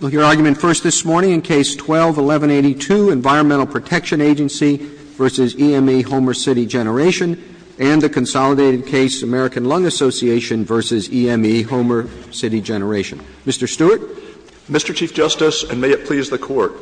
We'll hear argument first this morning in Case 12-1182, Environmental Protection Agency v. EME Homer City Generation, and a consolidated case, American Lung Association v. EME Homer City Generation. Mr. Stewart? Mr. Chief Justice, and may it please the Court,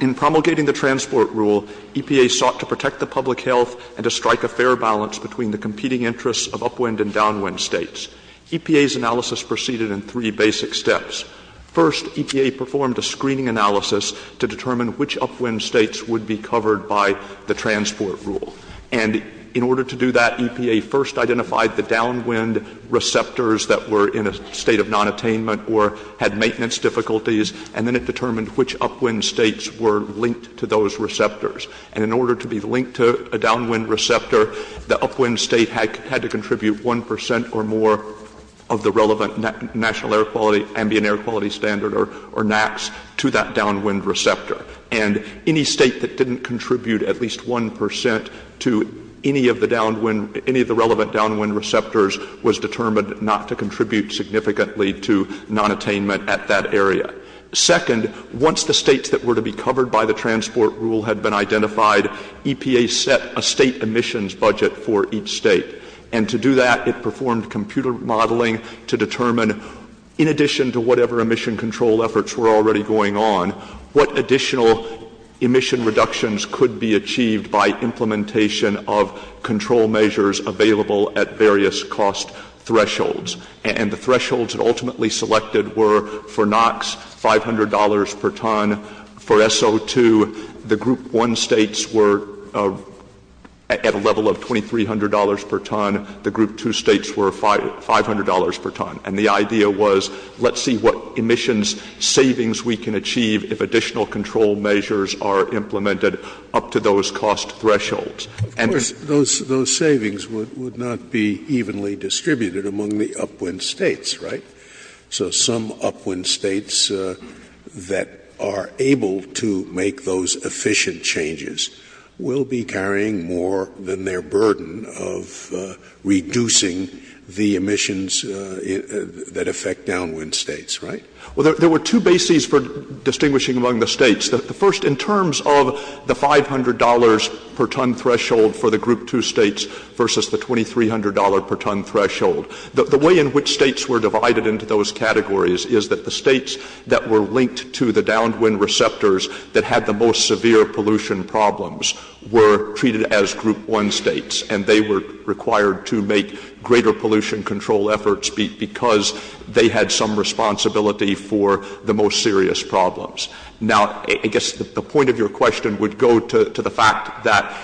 in promulgating the transport rule, EPA sought to protect the public health and to strike a fair balance between the competing interests of upwind and downwind states. EPA's analysis proceeded in three basic steps. First, EPA performed a screening analysis to determine which upwind states would be covered by the transport rule. And in order to do that, EPA first identified the downwind receptors that were in a state of nonattainment or had maintenance difficulties, and then it determined which upwind states were linked to those receptors. And in order to be linked to a downwind receptor, the upwind state had to contribute one percent or more of the relevant National Ambient Air Quality Standard, or NAAQS, to that downwind receptor. And any state that didn't contribute at least one percent to any of the relevant downwind receptors was determined not to contribute significantly to nonattainment at that area. Second, once the states that were to be covered by the transport rule had been identified, EPA set a state emissions budget for each state. And to do that, it performed computer modeling to determine, in addition to whatever emission control efforts were already going on, what additional emission reductions could be achieved by implementation of control measures available at various cost thresholds. And the thresholds ultimately selected were, for NAAQS, $500 per ton. For SO2, the Group 1 states were at a level of $2,300 per ton. The Group 2 states were $500 per ton. And the idea was, let's see what emissions savings we can achieve if additional control measures are implemented up to those cost thresholds. Those savings would not be evenly distributed among the upwind states, right? So some upwind states that are able to make those efficient changes will be carrying more than their burden of reducing the emissions that affect downwind states, right? Well, there were two bases for distinguishing among the states. The first, in terms of the $500 per ton threshold for the Group 2 states versus the $2,300 per ton threshold, the way in which states were divided into those categories is that the states that were linked to the downwind receptors that had the most severe pollution problems were treated as Group 1 states, and they were required to make greater pollution control efforts because they had some responsibility for the most serious problems. Now, I guess the point of your question would go to the fact that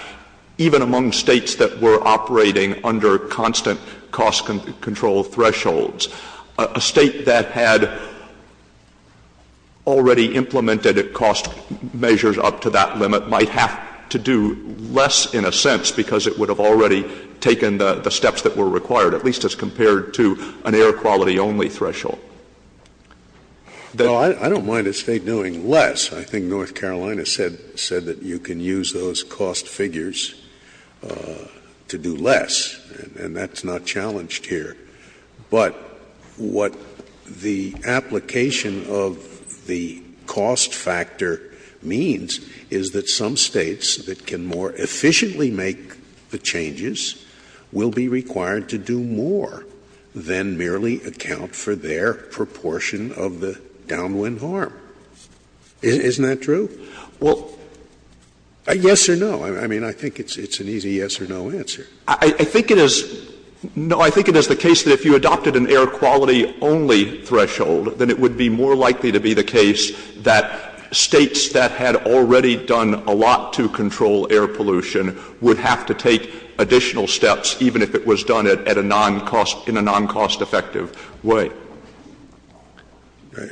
even among states that were operating under constant cost control thresholds, a state that had already implemented cost measures up to that limit might have to do less, in a sense, because it would have already taken the steps that were required, at least as compared to an air quality only threshold. Well, I don't mind a state doing less. I think North Carolina said that you can use those cost figures to do less, and that's not challenged here. But what the application of the cost factor means is that some states that can more efficiently make the changes will be required to do more than merely account for their proportion of the downwind harm. Isn't that true? Well, yes or no. I mean, I think it's an easy yes or no answer. I think it is the case that if you adopted an air quality only threshold, then it would be more likely to be the case that states that had already done a lot to control air pollution would have to take additional steps, even if it was done in a non-cost effective way.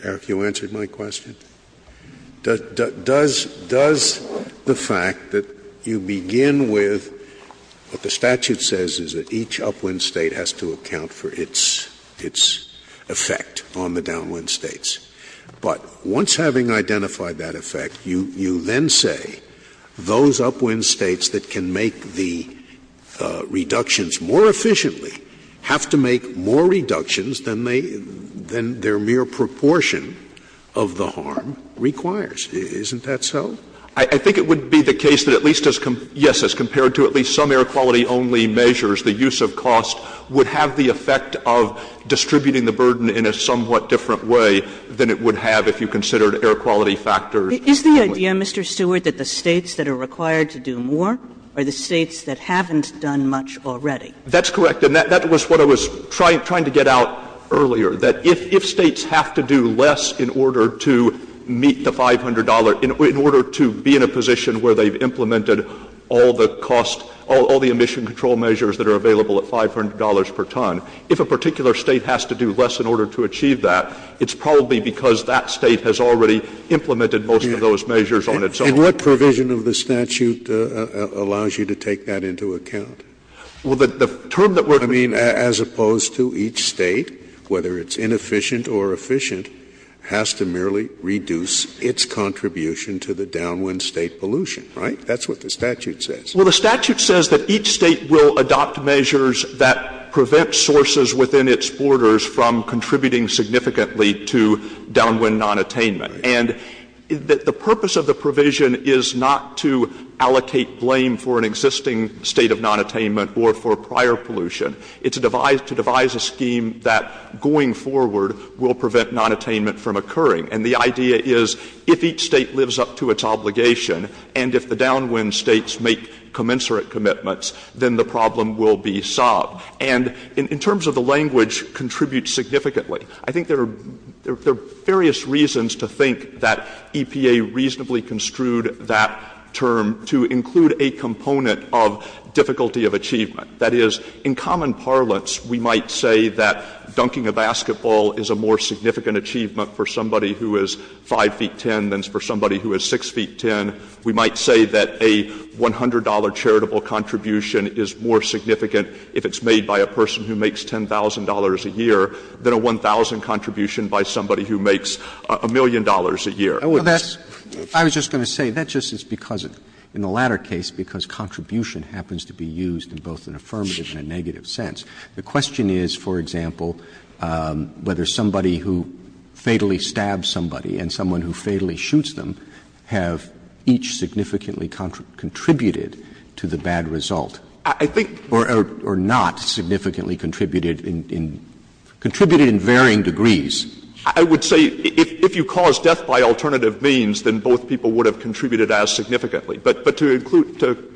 Have you answered my question? Does the fact that you begin with what the statute says is that each upwind state has to account for its effect on the downwind states, but once having identified that effect, you then say those upwind states that can make the reductions more efficiently have to make more reductions than their mere proportion of the harm requires. Isn't that so? I think it would be the case that at least as compared to at least some air quality only measures, the use of cost would have the effect of distributing the burden in a somewhat different way than it would have if you considered air quality factors. Is the idea, Mr. Stewart, that the states that are required to do more are the states that haven't done much already? That's correct, and that was what I was trying to get out earlier, that if states have to do less in order to meet the $500, in order to be in a position where they've implemented all the emission control measures that are available at $500 per ton, if a particular state has to do less in order to achieve that, it's probably because that state has already implemented most of those measures on its own. And what provision of the statute allows you to take that into account? I mean, as opposed to each state, whether it's inefficient or efficient, has to merely reduce its contribution to the downwind state pollution, right? That's what the statute says. Well, the statute says that each state will adopt measures that prevent sources within its borders from contributing significantly to downwind nonattainment. And the purpose of the provision is not to allocate blame for an existing state of nonattainment or for prior pollution. It's to devise a scheme that, going forward, will prevent nonattainment from occurring. And the idea is, if each state lives up to its obligation, and if the downwind states make commensurate commitments, then the problem will be solved. And in terms of the language, contribute significantly. I think there are various reasons to think that EPA reasonably construed that term to include a component of difficulty of achievement. That is, in common parlance, we might say that dunking a basketball is a more significant achievement for somebody who is 5 feet 10 than for somebody who is 6 feet 10. We might say that a $100 charitable contribution is more significant if it's made by a person who makes $10,000 a year than a $1,000 contribution by somebody who makes a million dollars a year. I was just going to say, that's just because, in the latter case, because contribution happens to be used in both an affirmative and a negative sense. The question is, for example, whether somebody who fatally stabs somebody and someone who fatally shoots them have each significantly contributed to the bad result. Or not significantly contributed. Contributed in varying degrees. I would say, if you cause death by alternative means, then both people would have contributed as significantly. But to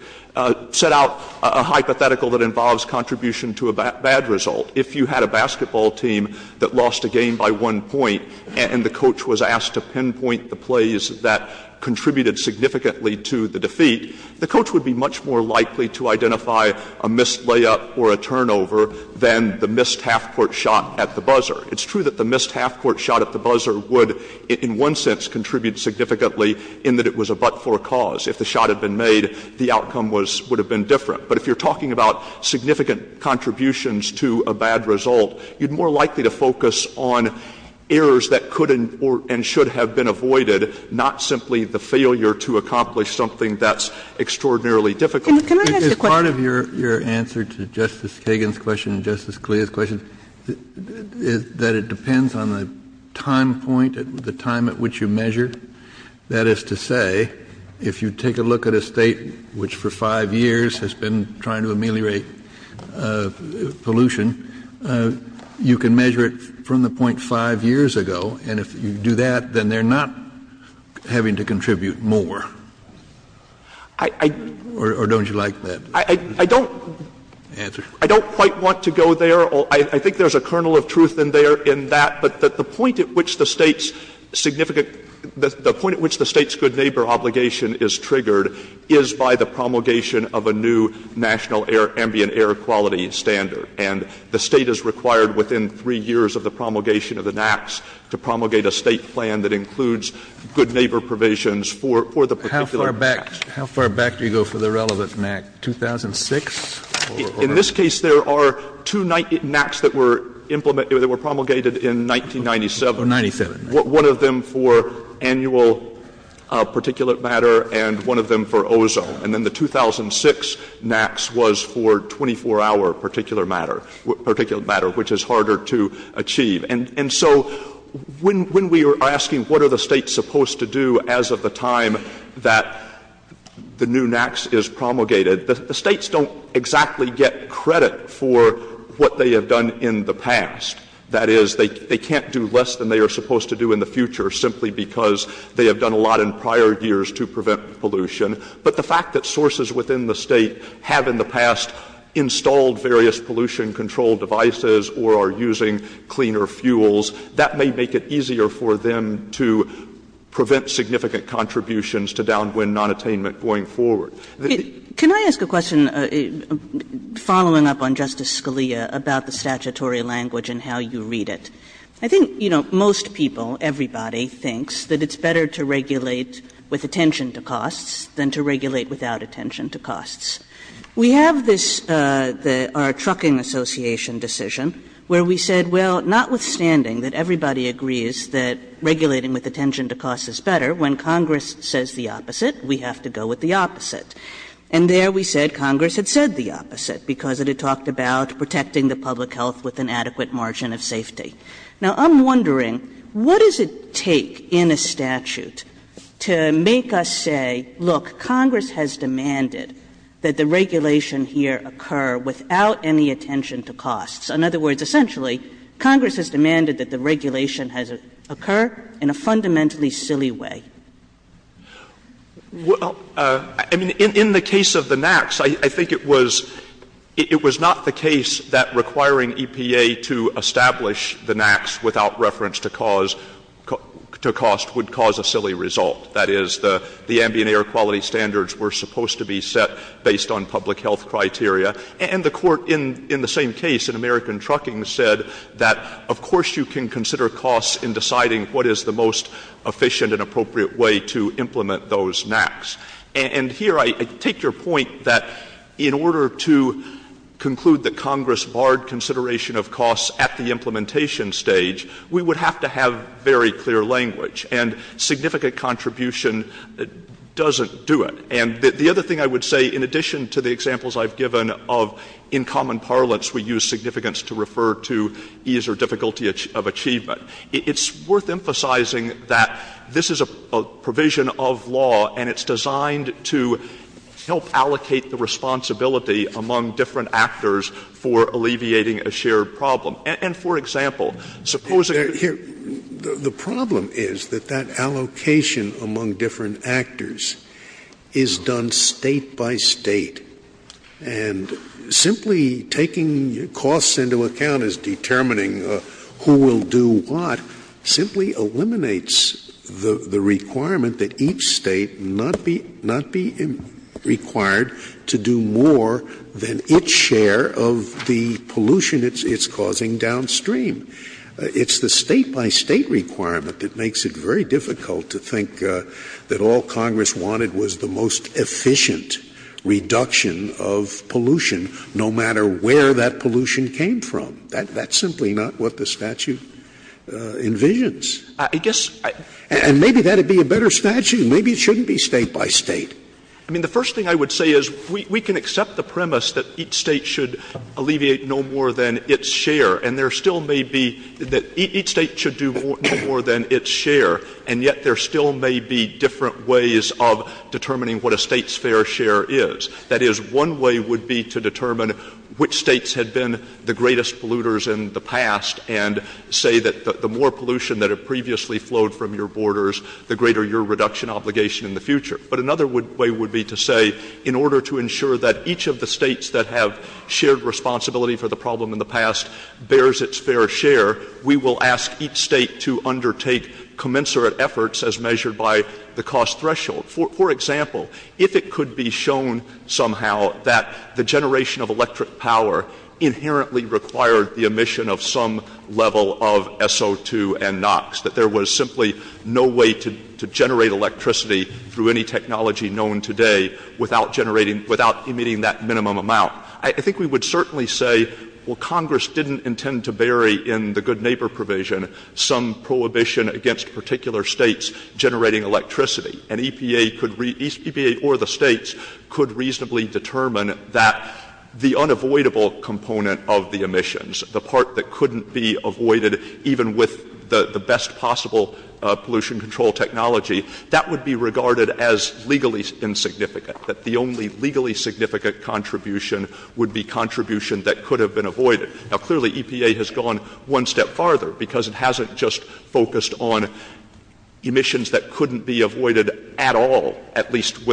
set out a hypothetical that involves contribution to a bad result, if you had a basketball team that lost a game by one point and the coach was asked to pinpoint the plays that contributed significantly to the defeat, the coach would be much more likely to identify a missed layup or a turnover than the missed half-court shot at the buzzer. It's true that the missed half-court shot at the buzzer would, in one sense, contribute significantly in that it was a but-for cause. If the shot had been made, the outcome would have been different. But if you're talking about significant contributions to a bad result, you're more likely to focus on errors that could and should have been avoided, not simply the failure to accomplish something that's extraordinarily difficult. Part of your answer to Justice Kagan's question and Justice Scalia's question is that it depends on the time point, the time at which you measure. That is to say, if you take a look at a state which for five years has been trying to ameliorate pollution, you can measure it from the point five years ago. And if you do that, then they're not having to contribute more. Or don't you like that answer? I don't quite want to go there. I think there's a kernel of truth in there in that. But the point at which the state's good neighbor obligation is triggered is by the promulgation of a new national ambient air quality standard. And the state is required within three years of the promulgation of the NAAQS to promulgate a state plan that includes good neighbor provisions for the particular matter. How far back do you go for the relevant NAAQS? 2006? In this case, there are two NAAQS that were promulgated in 1997. 1997. One of them for annual particulate matter and one of them for ozone. And then the 2006 NAAQS was for 24-hour particulate matter, which is harder to achieve. And so when we are asking what are the states supposed to do as of the time that the new NAAQS is promulgated, the states don't exactly get credit for what they have done in the past. That is, they can't do less than they are supposed to do in the future simply because they have done a lot in prior years to prevent pollution. But the fact that sources within the state have in the past installed various pollution control devices or are using cleaner fuels, that may make it easier for them to prevent significant contributions to downwind nonattainment going forward. Can I ask a question following up on Justice Scalia about the statutory language and how you read it? I think, you know, most people, everybody thinks that it's better to regulate with attention to costs than to regulate without attention to costs. We have this, our Trucking Association decision, where we said, well, notwithstanding that everybody agrees that regulating with attention to cost is better, when Congress says the opposite, we have to go with the opposite. And there we said Congress had said the opposite because it had talked about protecting the public health with an adequate margin of safety. Now, I'm wondering, what does it take in a statute to make us say, look, Congress has demanded that the regulation here occur without any attention to costs? In other words, essentially, Congress has demanded that the regulation occur in a fundamentally silly way. Well, I mean, in the case of the NAAQS, I think it was not the case that requiring EPA to establish the NAAQS without reference to cost would cause a silly result. That is, the ambient air quality standards were supposed to be set based on public health criteria. And the Court, in the same case, in American Trucking, said that of course you can consider costs in deciding what is the most efficient and appropriate way to implement those NAAQS. And here I take your point that in order to conclude that Congress barred consideration of costs at the implementation stage, we would have to have very clear language. And significant contribution doesn't do it. And the other thing I would say, in addition to the examples I've given of in common parlance we use significance to refer to ease or difficulty of achievement, it's worth emphasizing that this is a provision of law and it's designed to help allocate the responsibility among different actors for alleviating a shared problem. And, for example, supposing... The problem is that that allocation among different actors is done state by state. And simply taking costs into account as determining who will do what simply eliminates the requirement that each state not be required to do more than its share of the pollution it's causing downstream. It's the state by state requirement that makes it very difficult to think that all Congress wanted was the most efficient reduction of pollution, no matter where that pollution came from. That's simply not what the statute envisions. I guess... And maybe that would be a better statute. Maybe it shouldn't be state by state. I mean, the first thing I would say is we can accept the premise that each state should alleviate no more than its share, and there still may be... That each state should do more than its share, and yet there still may be different ways of determining what a state's fair share is. That is, one way would be to determine which states had been the greatest polluters in the past and say that the more pollution that had previously flowed from your borders, the greater your reduction obligation in the future. But another way would be to say, in order to ensure that each of the states that have shared responsibility for the problem in the past bears its fair share, we will ask each state to undertake commensurate efforts as measured by the cost threshold. For example, if it could be shown somehow that the generation of electric power inherently required the emission of some level of SO2 and NOx, that there was simply no way to generate electricity through any technology known today without emitting that minimum amount, I think we would certainly say, well, Congress didn't intend to bury in the good neighbor provision some prohibition against particular states generating electricity. And EPA or the states could reasonably determine that the unavoidable component of the emissions, the part that couldn't be avoided even with the best possible pollution control technology, that would be regarded as legally insignificant, that the only legally significant contribution would be contribution that could have been avoided. Now, clearly EPA has gone one step farther because it hasn't just focused on emissions that couldn't be avoided at all, at least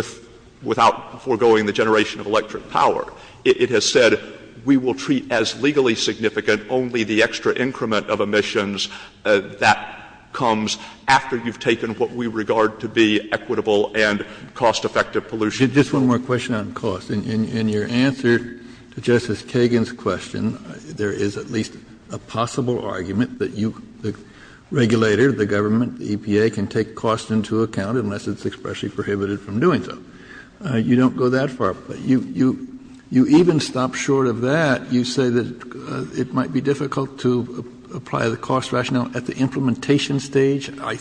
without foregoing the generation of electric power. It has said we will treat as legally significant only the extra increment of emissions that comes after you've taken what we regard to be equitable and cost effective pollution. Just one more question on cost. In your answer to Justice Kagan's question, there is at least a possible argument that you, the regulator, the government, the EPA can take cost into account unless it's expressly prohibited from doing so. You don't go that far. You even stop short of that. You say that it might be difficult to apply the cost rationale at the implementation stage. What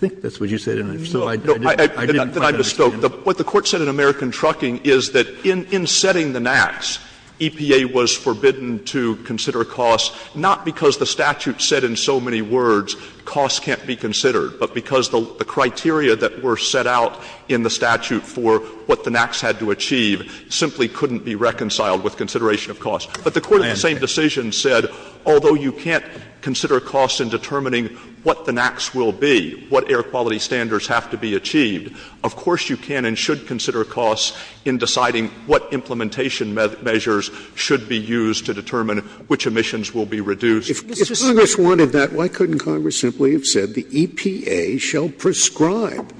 the Court said in American Trucking is that in setting the NAAQS, EPA was forbidden to consider cost, not because the statute said in so many words cost can't be considered, but because the criteria that were set out in the statute for what the NAAQS had to achieve simply couldn't be reconciled with consideration of cost. But the Court in the same decision said, although you can't consider cost in determining what the NAAQS will be, what air quality standards have to be achieved, of course you can and should consider cost in deciding what implementation measures should be used to determine which emissions will be reduced. If Congress wanted that, why couldn't Congress simply have said, the EPA shall prescribe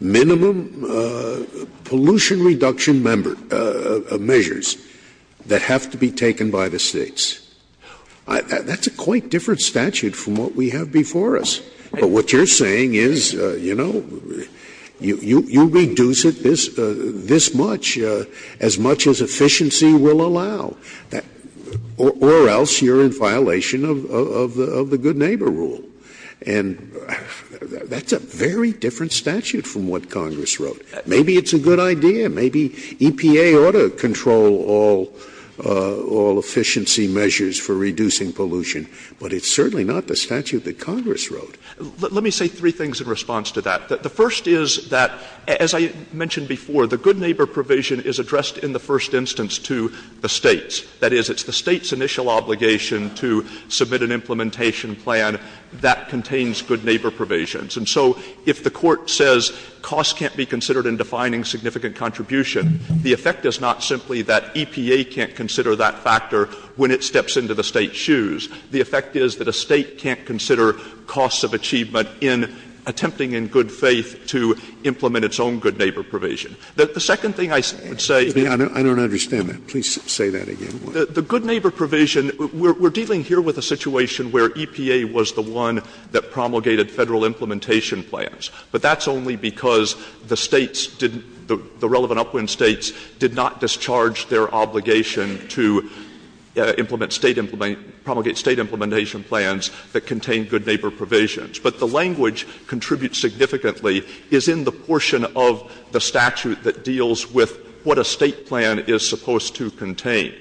minimum pollution reduction measures that have to be taken by the states? That's a quite different statute from what we have before us. But what you're saying is, you know, you reduce it this much, as much as efficiency will allow, or else you're in violation of the good neighbor rule. And that's a very different statute from what Congress wrote. Maybe it's a good idea. Maybe EPA ought to control all efficiency measures for reducing pollution, but it's certainly not the statute that Congress wrote. Let me say three things in response to that. The first is that, as I mentioned before, the good neighbor provision is addressed in the first instance to the states. That is, it's the state's initial obligation to submit an implementation plan that contains good neighbor provisions. And so if the Court says cost can't be considered in defining significant contribution, the effect is not simply that EPA can't consider that factor when it steps into the state's shoes. The effect is that a state can't consider costs of achievement in attempting in good faith to implement its own good neighbor provision. The second thing I would say— I don't understand that. Please say that again. The good neighbor provision— we're dealing here with a situation where EPA was the one that promulgated federal implementation plans. But that's only because the relevant upwind states did not discharge their obligation to promulgate state implementation plans that contained good neighbor provisions. But the language contributes significantly is in the portion of the statute that deals with what a state plan is supposed to contain.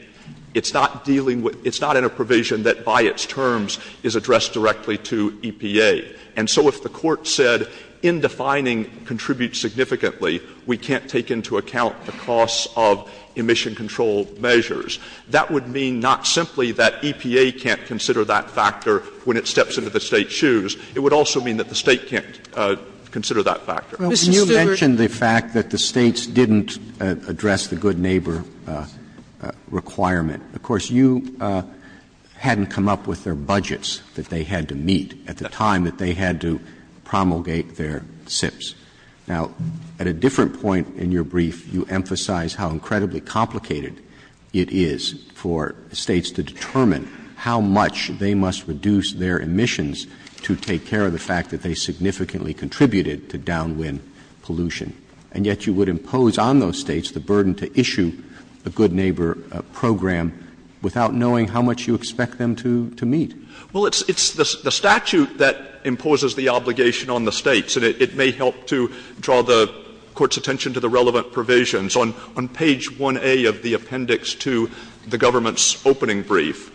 It's not in a provision that, by its terms, is addressed directly to EPA. And so if the Court said, in defining contributes significantly, we can't take into account the costs of emission control measures, that would mean not simply that EPA can't consider that factor when it steps into the state's shoes. It would also mean that the state can't consider that factor. Well, you mentioned the fact that the states didn't address the good neighbor requirement. Of course, you hadn't come up with their budgets that they had to meet at the time that they had to promulgate their SIPs. Now, at a different point in your brief, you emphasize how incredibly complicated it is for states to determine how much they must reduce their emissions to take care of the fact that they significantly contributed to downwind pollution. And yet you would impose on those states the burden to issue the good neighbor program without knowing how much you expect them to meet. Well, it's the statute that imposes the obligation on the states, and it may help to draw the court's attention to the relevant provisions. On page 1A of the appendix to the government's opening brief,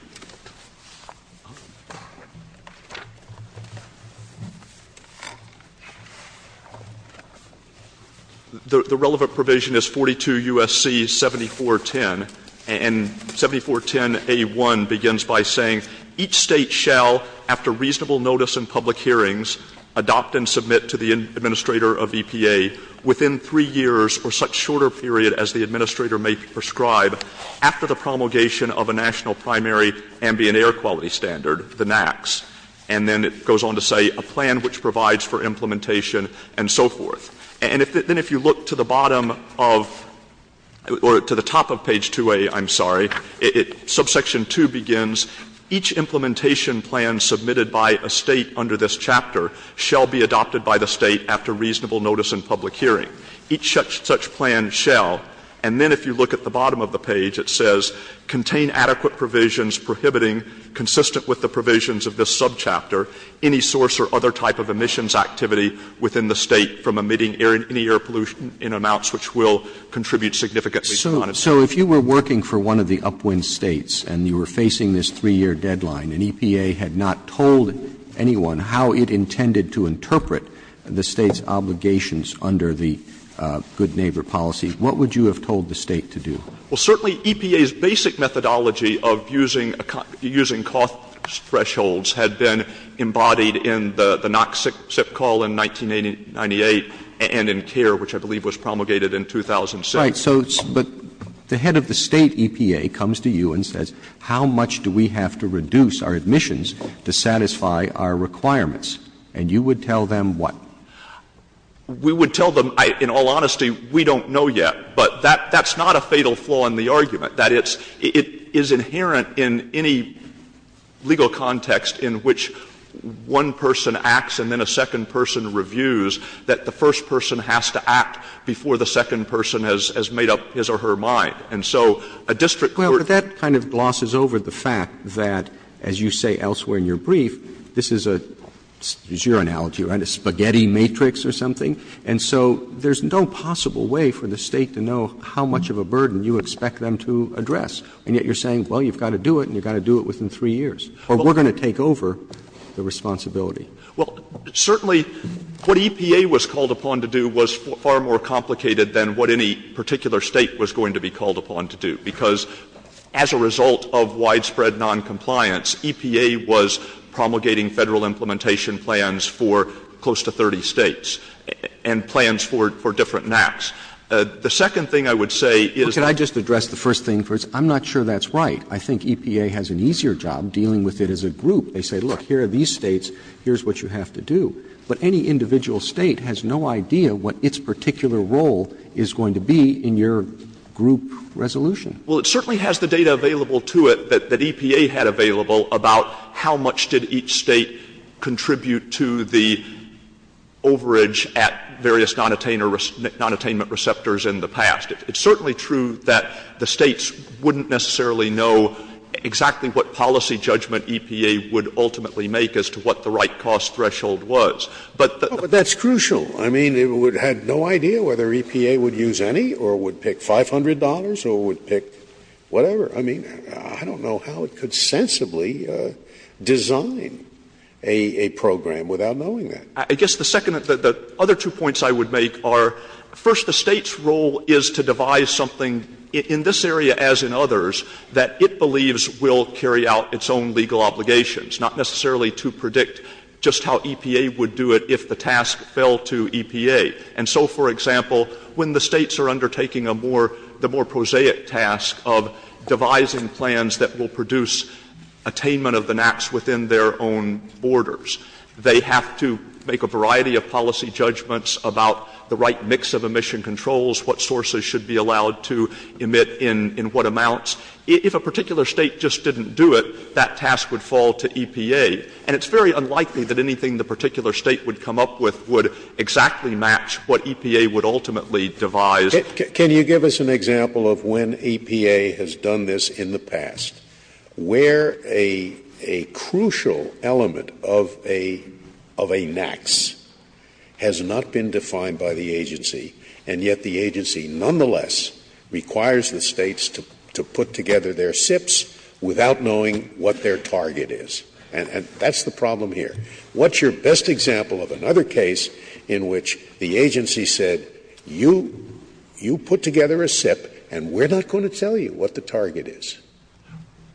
the relevant provision is 42 U.S.C. 7410, and 7410A1 begins by saying, each state shall, after reasonable notice in public hearings, adopt and submit to the administrator of EPA within three years or such shorter period as the administrator may prescribe after the promulgation of a national primary ambient air quality standard, the NAAQS. And then it goes on to say, a plan which provides for implementation, and so forth. And then if you look to the bottom of, or to the top of page 2A, I'm sorry, subsection 2 begins, each implementation plan submitted by a state under this chapter shall be adopted by the state after reasonable notice in public hearing. Each such plan shall, and then if you look at the bottom of the page, it says, contain adequate provisions prohibiting, consistent with the provisions of this subchapter, any source or other type of emissions activity within the state from emitting any air pollution in amounts which will contribute significantly to climate change. So if you were working for one of the upwind states, and you were facing this three-year deadline, and EPA had not told anyone how it intended to interpret the state's obligations under the good neighbor policy, what would you have told the state to do? Well, certainly EPA's basic methodology of using cost thresholds had been embodied in the NAAQS SIP call in 1998, and in CARE, which I believe was promulgated in 2007. Right, so the head of the state, EPA, comes to you and says, how much do we have to reduce our emissions to satisfy our requirements? And you would tell them what? We would tell them, in all honesty, we don't know yet, but that's not a fatal flaw in the argument. That is, it is inherent in any legal context in which one person acts and then a second person reviews that the first person has to act before the second person has made up his or her mind. Well, but that kind of glosses over the fact that, as you say elsewhere in your brief, this is your analogy, right, a spaghetti matrix or something? And so there's no possible way for the state to know how much of a burden you expect them to address, and yet you're saying, well, you've got to do it, and you've got to do it within three years, or we're going to take over the responsibility. Well, certainly what EPA was called upon to do was far more complicated than what any particular state was going to be called upon to do, because as a result of widespread noncompliance, EPA was promulgating federal implementation plans for close to 30 states and plans for different maps. The second thing I would say is... Well, can I just address the first thing first? I'm not sure that's right. I think EPA has an easier job dealing with it as a group. They say, look, here are these states. Here's what you have to do. But any individual state has no idea what its particular role is going to be in your group resolution. Well, it certainly has the data available to it that EPA had available about how much did each state contribute to the overage at various nonattainment receptors in the past. It's certainly true that the states wouldn't necessarily know exactly what policy judgment EPA would ultimately make as to what the right cost threshold was. But that's crucial. I mean, it would have no idea whether EPA would use any or would pick $500 or would pick whatever. I mean, I don't know how it could sensibly design a program without knowing that. I guess the other two points I would make are... First, the state's role is to devise something in this area as in others that it believes will carry out its own legal obligations, not necessarily to predict just how EPA would do it if the task fell to EPA. And so, for example, when the states are undertaking the more prosaic task of devising plans that will produce attainment of the NAPs within their own borders, they have to make a variety of policy judgments about the right mix of emission controls, what sources should be allowed to emit in what amounts. If a particular state just didn't do it, that task would fall to EPA. And it's very unlikely that anything the particular state would come up with would exactly match what EPA would ultimately devise. Can you give us an example of when EPA has done this in the past where a crucial element of a NAPs has not been defined by the agency and yet the agency nonetheless requires the states to put together their SIPs without knowing what their target is? And that's the problem here. What's your best example of another case in which the agency said, you put together a SIP and we're not going to tell you what the target is?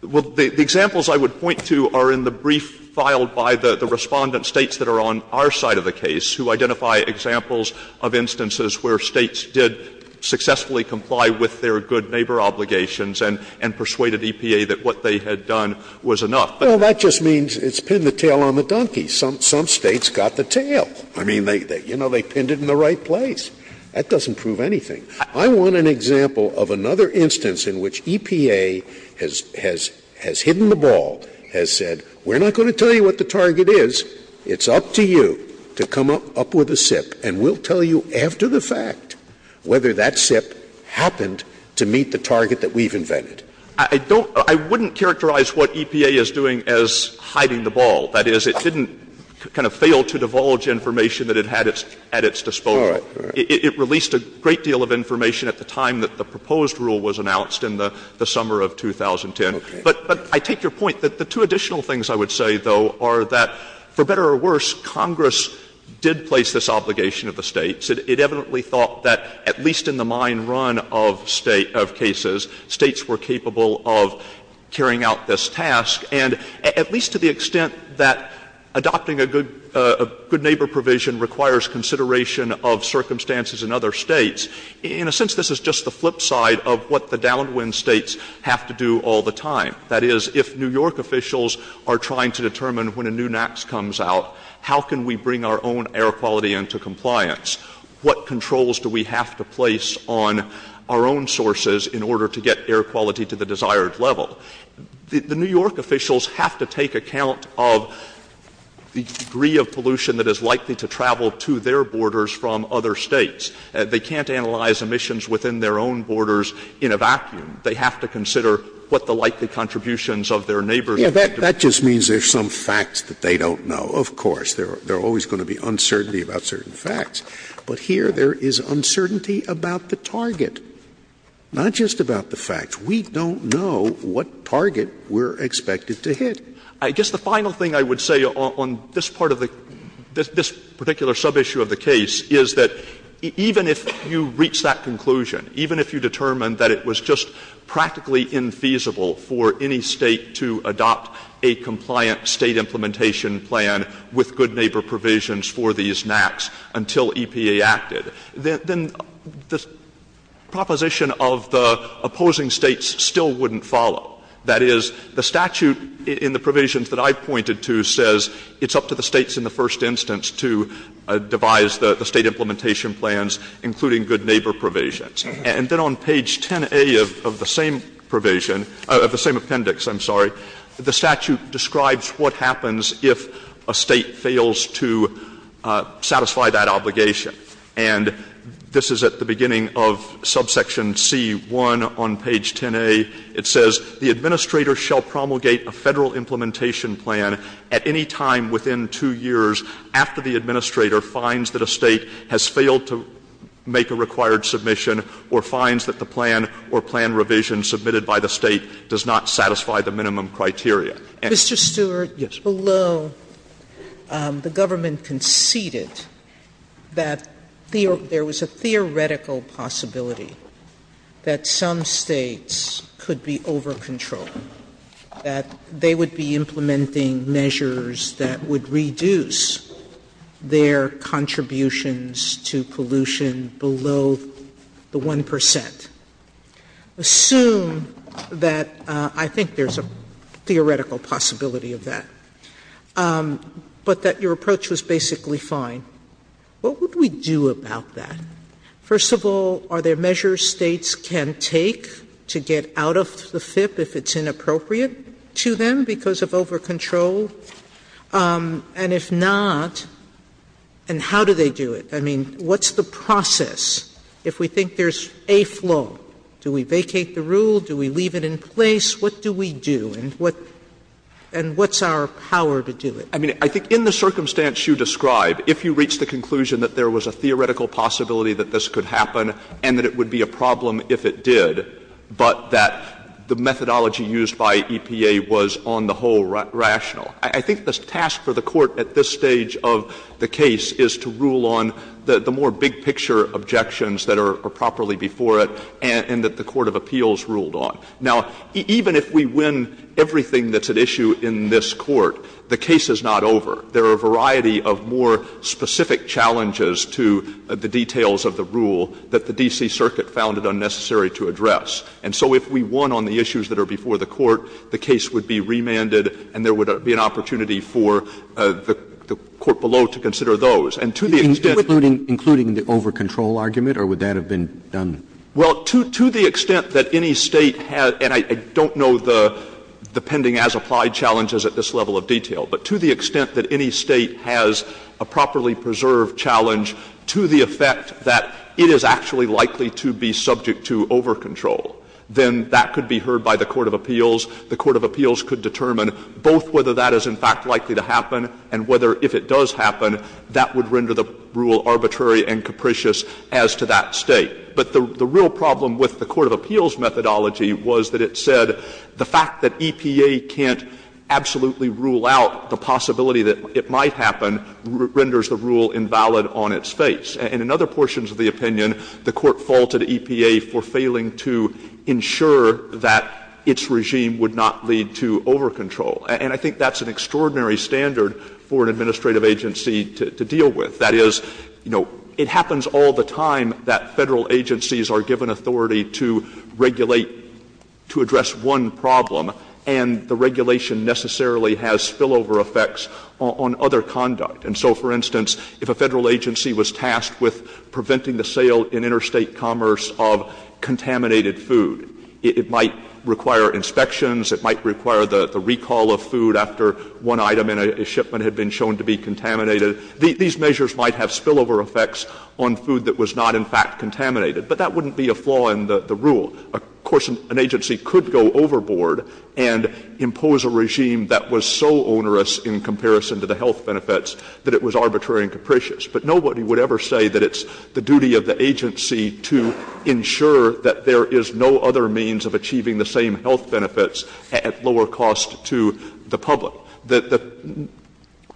Well, the examples I would point to are in the brief filed by the respondent states that are on our side of the case who identify examples of instances where states did successfully comply with their good neighbor obligations and persuaded EPA that what they had done was enough. Well, that just means it's pinned the tail on the donkey. Some states got the tail. I mean, you know, they pinned it in the right place. That doesn't prove anything. I want an example of another instance in which EPA has hidden the ball, has said, we're not going to tell you what the target is. It's up to you to come up with a SIP and we'll tell you after the fact whether that SIP happened to meet the target that we've invented. I wouldn't characterize what EPA is doing as hiding the ball. That is, it didn't kind of fail to divulge information that it had at its disposal. It released a great deal of information at the time that the proposed rule was announced in the summer of 2010. But I take your point. The two additional things I would say, though, are that, for better or worse, Congress did place this obligation of the states. It evidently thought that, at least in the mine run of cases, states were capable of carrying out this task. And at least to the extent that adopting a good neighbor provision requires consideration of circumstances in other states, in a sense, this is just the flip side of what the downwind states have to do all the time. That is, if New York officials are trying to determine when a new NAAQS comes out, how can we bring our own air quality into compliance? What controls do we have to place on our own sources in order to get air quality to the desired level? The New York officials have to take account of the degree of pollution that is likely to travel to their borders from other states. They can't analyze emissions within their own borders in a vacuum. They have to consider what the likely contributions of their neighbors... Yeah, that just means there's some facts that they don't know, of course. There are always going to be uncertainty about certain facts. But here there is uncertainty about the target, not just about the fact. We don't know what target we're expected to hit. I guess the final thing I would say on this particular sub-issue of the case is that even if you reach that conclusion, even if you determine that it was just practically infeasible for any state to adopt a compliant state implementation plan with good neighbor provisions for these NACs until EPA acted, then the proposition of the opposing states still wouldn't follow. That is, the statute in the provisions that I pointed to says it's up to the states in the first instance to devise the state implementation plans including good neighbor provisions. And then on page 10A of the same provision, of the same appendix, I'm sorry, the statute describes what happens if a state fails to satisfy that obligation. And this is at the beginning of subsection C1 on page 10A. It says, the administrator shall promulgate a federal implementation plan at any time within two years after the administrator finds that a state has failed to make a required submission or finds that the plan or plan revision submitted by the state does not satisfy the minimum criteria. Mr. Stewart, below, the government conceded that there was a theoretical possibility that some states could be over-controlled, that they would be implementing measures that would reduce their contributions to pollution below the 1%. And I would just assume that I think there's a theoretical possibility of that, but that your approach was basically fine. What would we do about that? First of all, are there measures states can take to get out of the FIF if it's inappropriate to them because of over-control? And if not, and how do they do it? I mean, what's the process if we think there's a flow? Do we vacate the rule? Do we leave it in place? What do we do? And what's our power to do it? I mean, I think in the circumstance you describe, if you reach the conclusion that there was a theoretical possibility that this could happen and that it would be a problem if it did, but that the methodology used by EPA was on the whole rational, I think the task for the Court at this stage of the case is to rule on the more big-picture objections that are properly before it and that the Court of Appeals ruled on. Now, even if we win everything that's at issue in this Court, the case is not over. There are a variety of more specific challenges to the details of the rule that the D.C. Circuit found it unnecessary to address. And so if we won on the issues that are before the Court, the case would be remanded, and there would be an opportunity for the Court below to consider those. And to the extent... Including the over-control argument, or would that have been done? Well, to the extent that any state has... And I don't know the pending-as-applied challenges at this level of detail, but to the extent that any state has a properly preserved challenge to the effect that it is actually likely to be subject to over-control, then that could be heard by the Court of Appeals. The Court of Appeals could determine both whether that is, in fact, likely to happen and whether, if it does happen, that would render the rule arbitrary and capricious as to that state. But the real problem with the Court of Appeals' methodology was that it said, the fact that EPA can't absolutely rule out the possibility that it might happen renders the rule invalid on its face. And in other portions of the opinion, the Court faulted EPA for failing to ensure that its regime would not lead to over-control. And I think that's an extraordinary standard for an administrative agency to deal with. That is, you know, it happens all the time that federal agencies are given authority to regulate, to address one problem, and the regulation necessarily has spillover effects on other conduct. And so, for instance, if a federal agency was tasked with preventing the sale in interstate commerce of contaminated food, it might require inspections, it might require the recall of food after one item in a shipment had been shown to be contaminated. These measures might have spillover effects on food that was not, in fact, contaminated. But that wouldn't be a flaw in the rule. Of course, an agency could go overboard and impose a regime that was so onerous in comparison to the health benefits that it was arbitrary and capricious. But nobody would ever say that it's the duty of the agency to ensure that there is no other means of achieving the same health benefits at lower cost to the public. The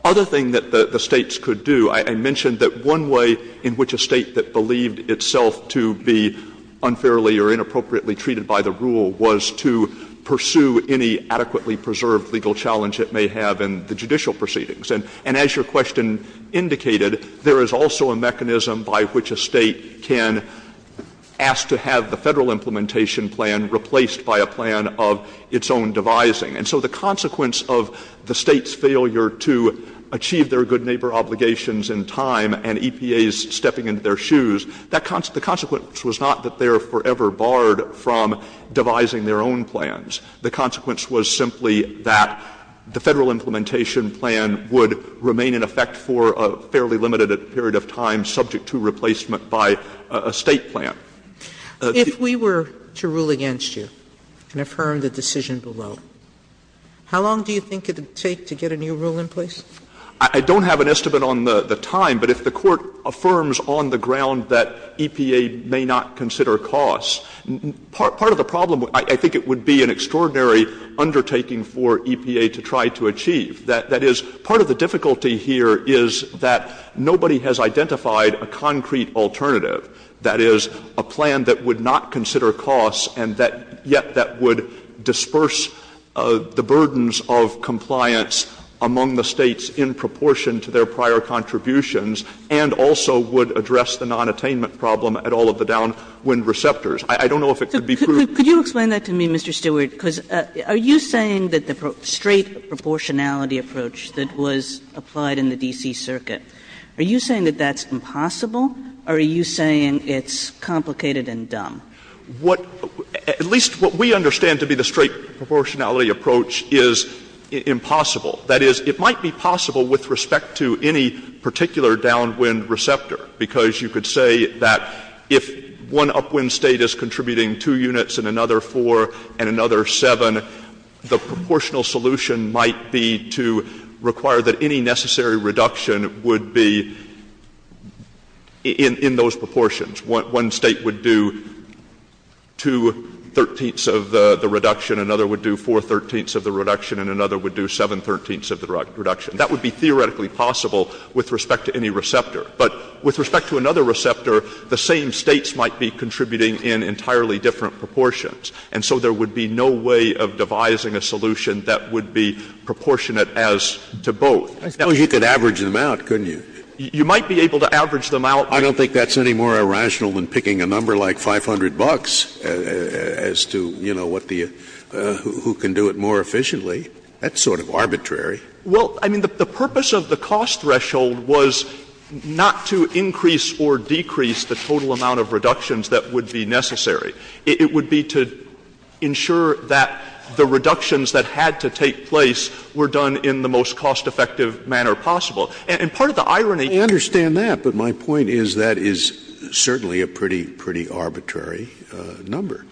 other thing that the states could do, I mentioned that one way in which a state that believed itself to be unfairly or inappropriately treated by the rule was to pursue any adequately preserved legal challenge it may have in the judicial proceedings. And as your question indicated, there is also a mechanism by which a state can ask to have the federal implementation plan replaced by a plan of its own devising. And so the consequence of the state's failure to achieve their good neighbor obligations in time and EPAs stepping into their shoes, the consequence was not that they are forever barred from devising their own plans. The consequence was simply that the federal implementation plan would remain in effect for a fairly limited period of time subject to replacement by a state plan. If we were to rule against you and affirm the decision below, how long do you think it would take to get a new rule in place? I don't have an estimate on the time, but if the court affirms on the ground that EPA may not consider costs, part of the problem, I think it would be an extraordinary undertaking for EPA to try to achieve. That is, part of the difficulty here is that nobody has identified a concrete alternative, that is, a plan that would not consider costs and yet that would disperse the burdens of compliance among the states in proportion to their prior contributions and also would address the nonattainment problem at all of the downwind receptors. I don't know if it could be proved. Could you explain that to me, Mr. Stewart? Are you saying that the straight proportionality approach that was applied in the D.C. Circuit, are you saying that that's impossible or are you saying it's complicated and dumb? At least what we understand to be the straight proportionality approach is impossible. That is, it might be possible with respect to any particular downwind receptor because you could say that if one upwind state is contributing two units and another four and another seven, the proportional solution might be to require that any necessary reduction would be in those proportions. One state would do two-thirteenths of the reduction, another would do four-thirteenths of the reduction, and another would do seven-thirteenths of the reduction. That would be theoretically possible with respect to any receptor. But with respect to another receptor, the same states might be contributing in entirely different proportions. And so there would be no way of devising a solution that would be proportionate as to both. You could average them out, couldn't you? You might be able to average them out. I don't think that's any more irrational than picking a number like 500 bucks as to who can do it more efficiently. That's sort of arbitrary. Well, I mean, the purpose of the cost threshold was not to increase or decrease the total amount of reductions that would be necessary. It would be to ensure that the reductions that had to take place were done in the most cost-effective manner possible. And part of the irony... I understand that, but my point is that is certainly a pretty arbitrary number.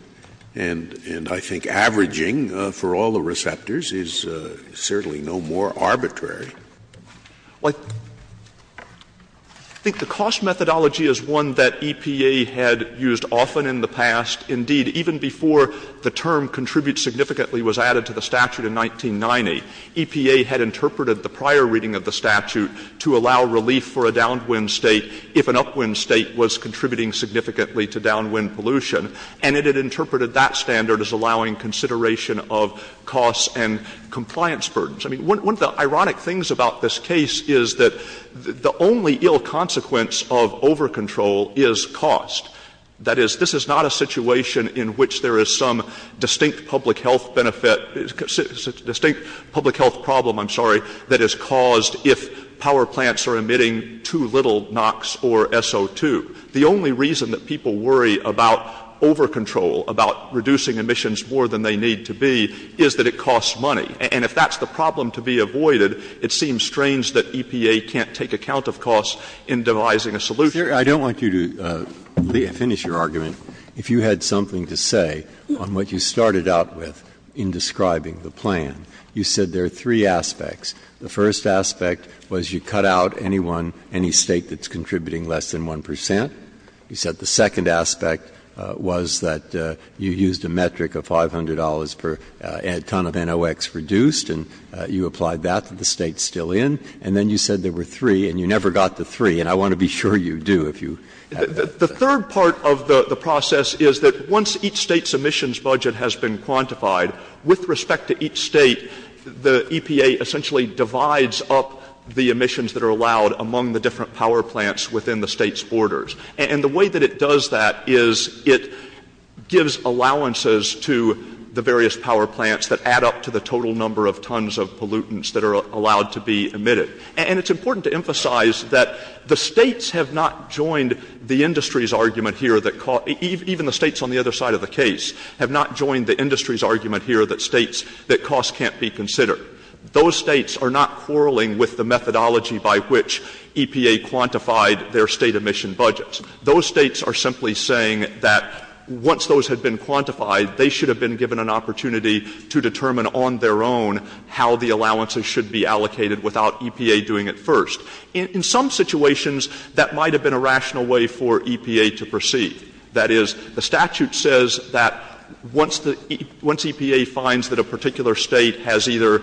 And I think averaging for all the receptors is certainly no more arbitrary. Like, I think the cost methodology is one that EPA had used often in the past. Indeed, even before the term contribute significantly was added to the statute in 1990, EPA had interpreted the prior reading of the statute to allow relief for a downwind state if an upwind state was contributing significantly to downwind pollution. And it had interpreted that standard as allowing consideration of costs and compliance burdens. I mean, one of the ironic things about this case is that the only ill consequence of overcontrol is cost. That is, this is not a situation in which there is some distinct public health benefit... distinct public health problem, I'm sorry, that is caused if power plants are emitting too little NOx or SO2. The only reason that people worry about overcontrol, about reducing emissions more than they need to be, is that it costs money. And if that's the problem to be avoided, it seems strange that EPA can't take account of costs in devising a solution. I don't want you to finish your argument if you had something to say on what you started out with in describing the plan. You said there are three aspects. The first aspect was you cut out anyone, any state that's contributing less than 1%. You said the second aspect was that you used a metric of $500 per ton of NOx reduced, and you applied that to the states still in. And then you said there were three, and you never got the three, and I want to be sure you do. The third part of the process is that once each state's emissions budget has been quantified, with respect to each state, the EPA essentially divides up the emissions that are allowed among the different power plants within the state's borders. And the way that it does that is it gives allowances to the various power plants that add up to the total number of tons of pollutants that are allowed to be emitted. And it's important to emphasize that the states have not joined the industry's argument here that costs... even the states on the other side of the case have not joined the industry's argument here that states... that costs can't be considered. Those states are not quarrelling with the methodology by which EPA quantified their state emission budgets. Those states are simply saying that once those had been quantified, they should have been given an opportunity to determine on their own how the allowances should be allocated without EPA doing it first. In some situations, that might have been a rational way for EPA to proceed. That is, the statute says that once EPA finds that a particular state has either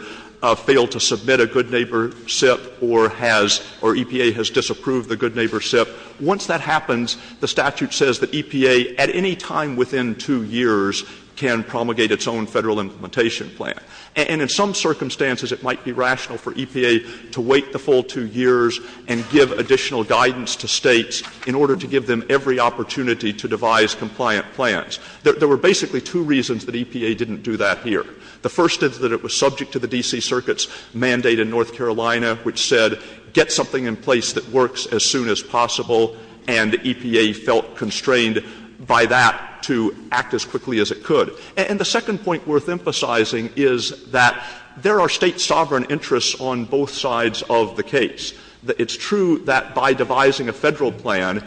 failed to submit a good-neighbor SIP or EPA has disapproved the good-neighbor SIP, once that happens, the statute says that EPA at any time within two years can promulgate its own federal implementation plan. And in some circumstances, it might be rational for EPA to wait the full two years and give additional guidance to states in order to give them every opportunity to devise compliant plans. There were basically two reasons that EPA didn't do that here. The first is that it was subject to the D.C. Circuit's mandate in North Carolina, which said get something in place that works as soon as possible, and EPA felt constrained by that to act as quickly as it could. And the second point worth emphasizing is that there are state sovereign interests on both sides of the case. It's true that by devising a federal plan,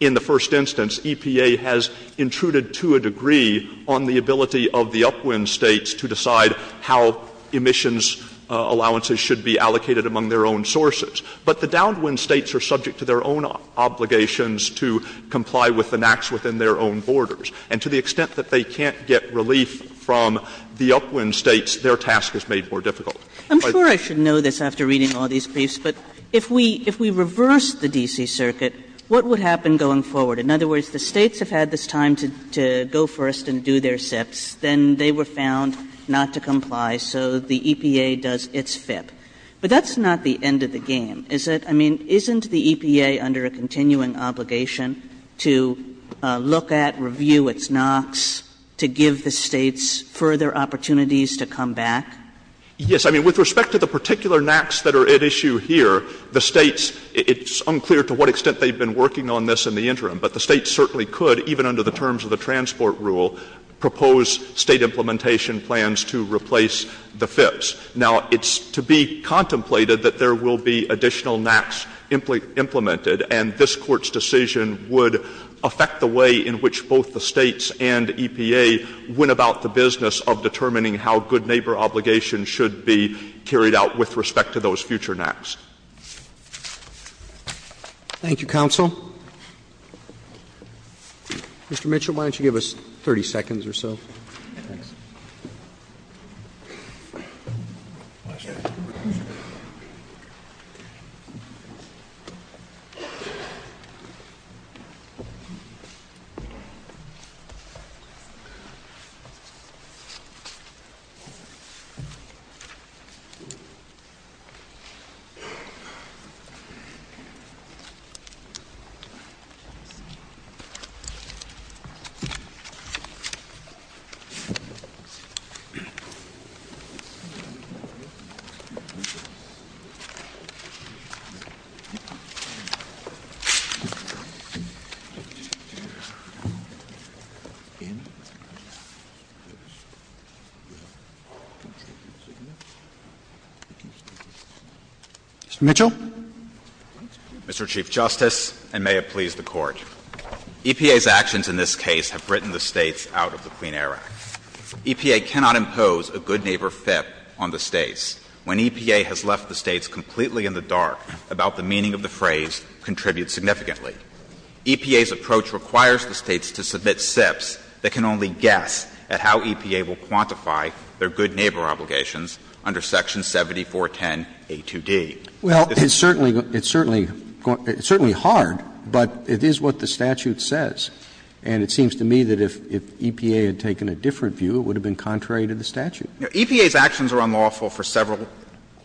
in the first instance, EPA has intruded to a degree on the ability of the upwind states to decide how emissions allowances should be allocated among their own sources. But the downwind states are subject to their own obligations to comply with the NAAQS within their own borders. And to the extent that they can't get relief from the upwind states, their task is made more difficult. I'm sure I should know this after reading all these, but if we reverse the D.C. Circuit, what would happen going forward? In other words, the states have had this time to go first and do their steps. Then they were found not to comply, so the EPA does its fit. But that's not the end of the game, is it? I mean, isn't the EPA under a continuing obligation to look at, review its NAAQS, to give the states further opportunities to come back? Yes, I mean, with respect to the particular NAAQS that are at issue here, the states, it's unclear to what extent they've been working on this in the interim, but the states certainly could, even under the terms of the transport rule, propose state implementation plans to replace the fits. Now, it's to be contemplated that there will be additional NAAQS implemented, and this Court's decision would affect the way in which both the states and EPA went about the business of determining how good neighbor obligations should be carried out with respect to those future NAAQS. Thank you, counsel. Mr. Mitchell, why don't you give us 30 seconds or so? Thank you. Mr. Mitchell? Mr. Chief Justice, and may it please the Court, EPA's actions in this case have written the states out of the Clean Air Act. to implement NAAQS, and we have no intention of doing so. EPA has proposed a good neighbor fit on the states. When EPA has left the states completely in the dark about the meaning of the phrase, contribute significantly. EPA's approach requires the states to submit SIFs that can only guess at how EPA will quantify their good neighbor obligations under Section 7410A2D. Well, it's certainly hard, but it is what the statute says, and it seems to me that if EPA had taken a different view, it would have been contrary to the statute. EPA's actions are unlawful for several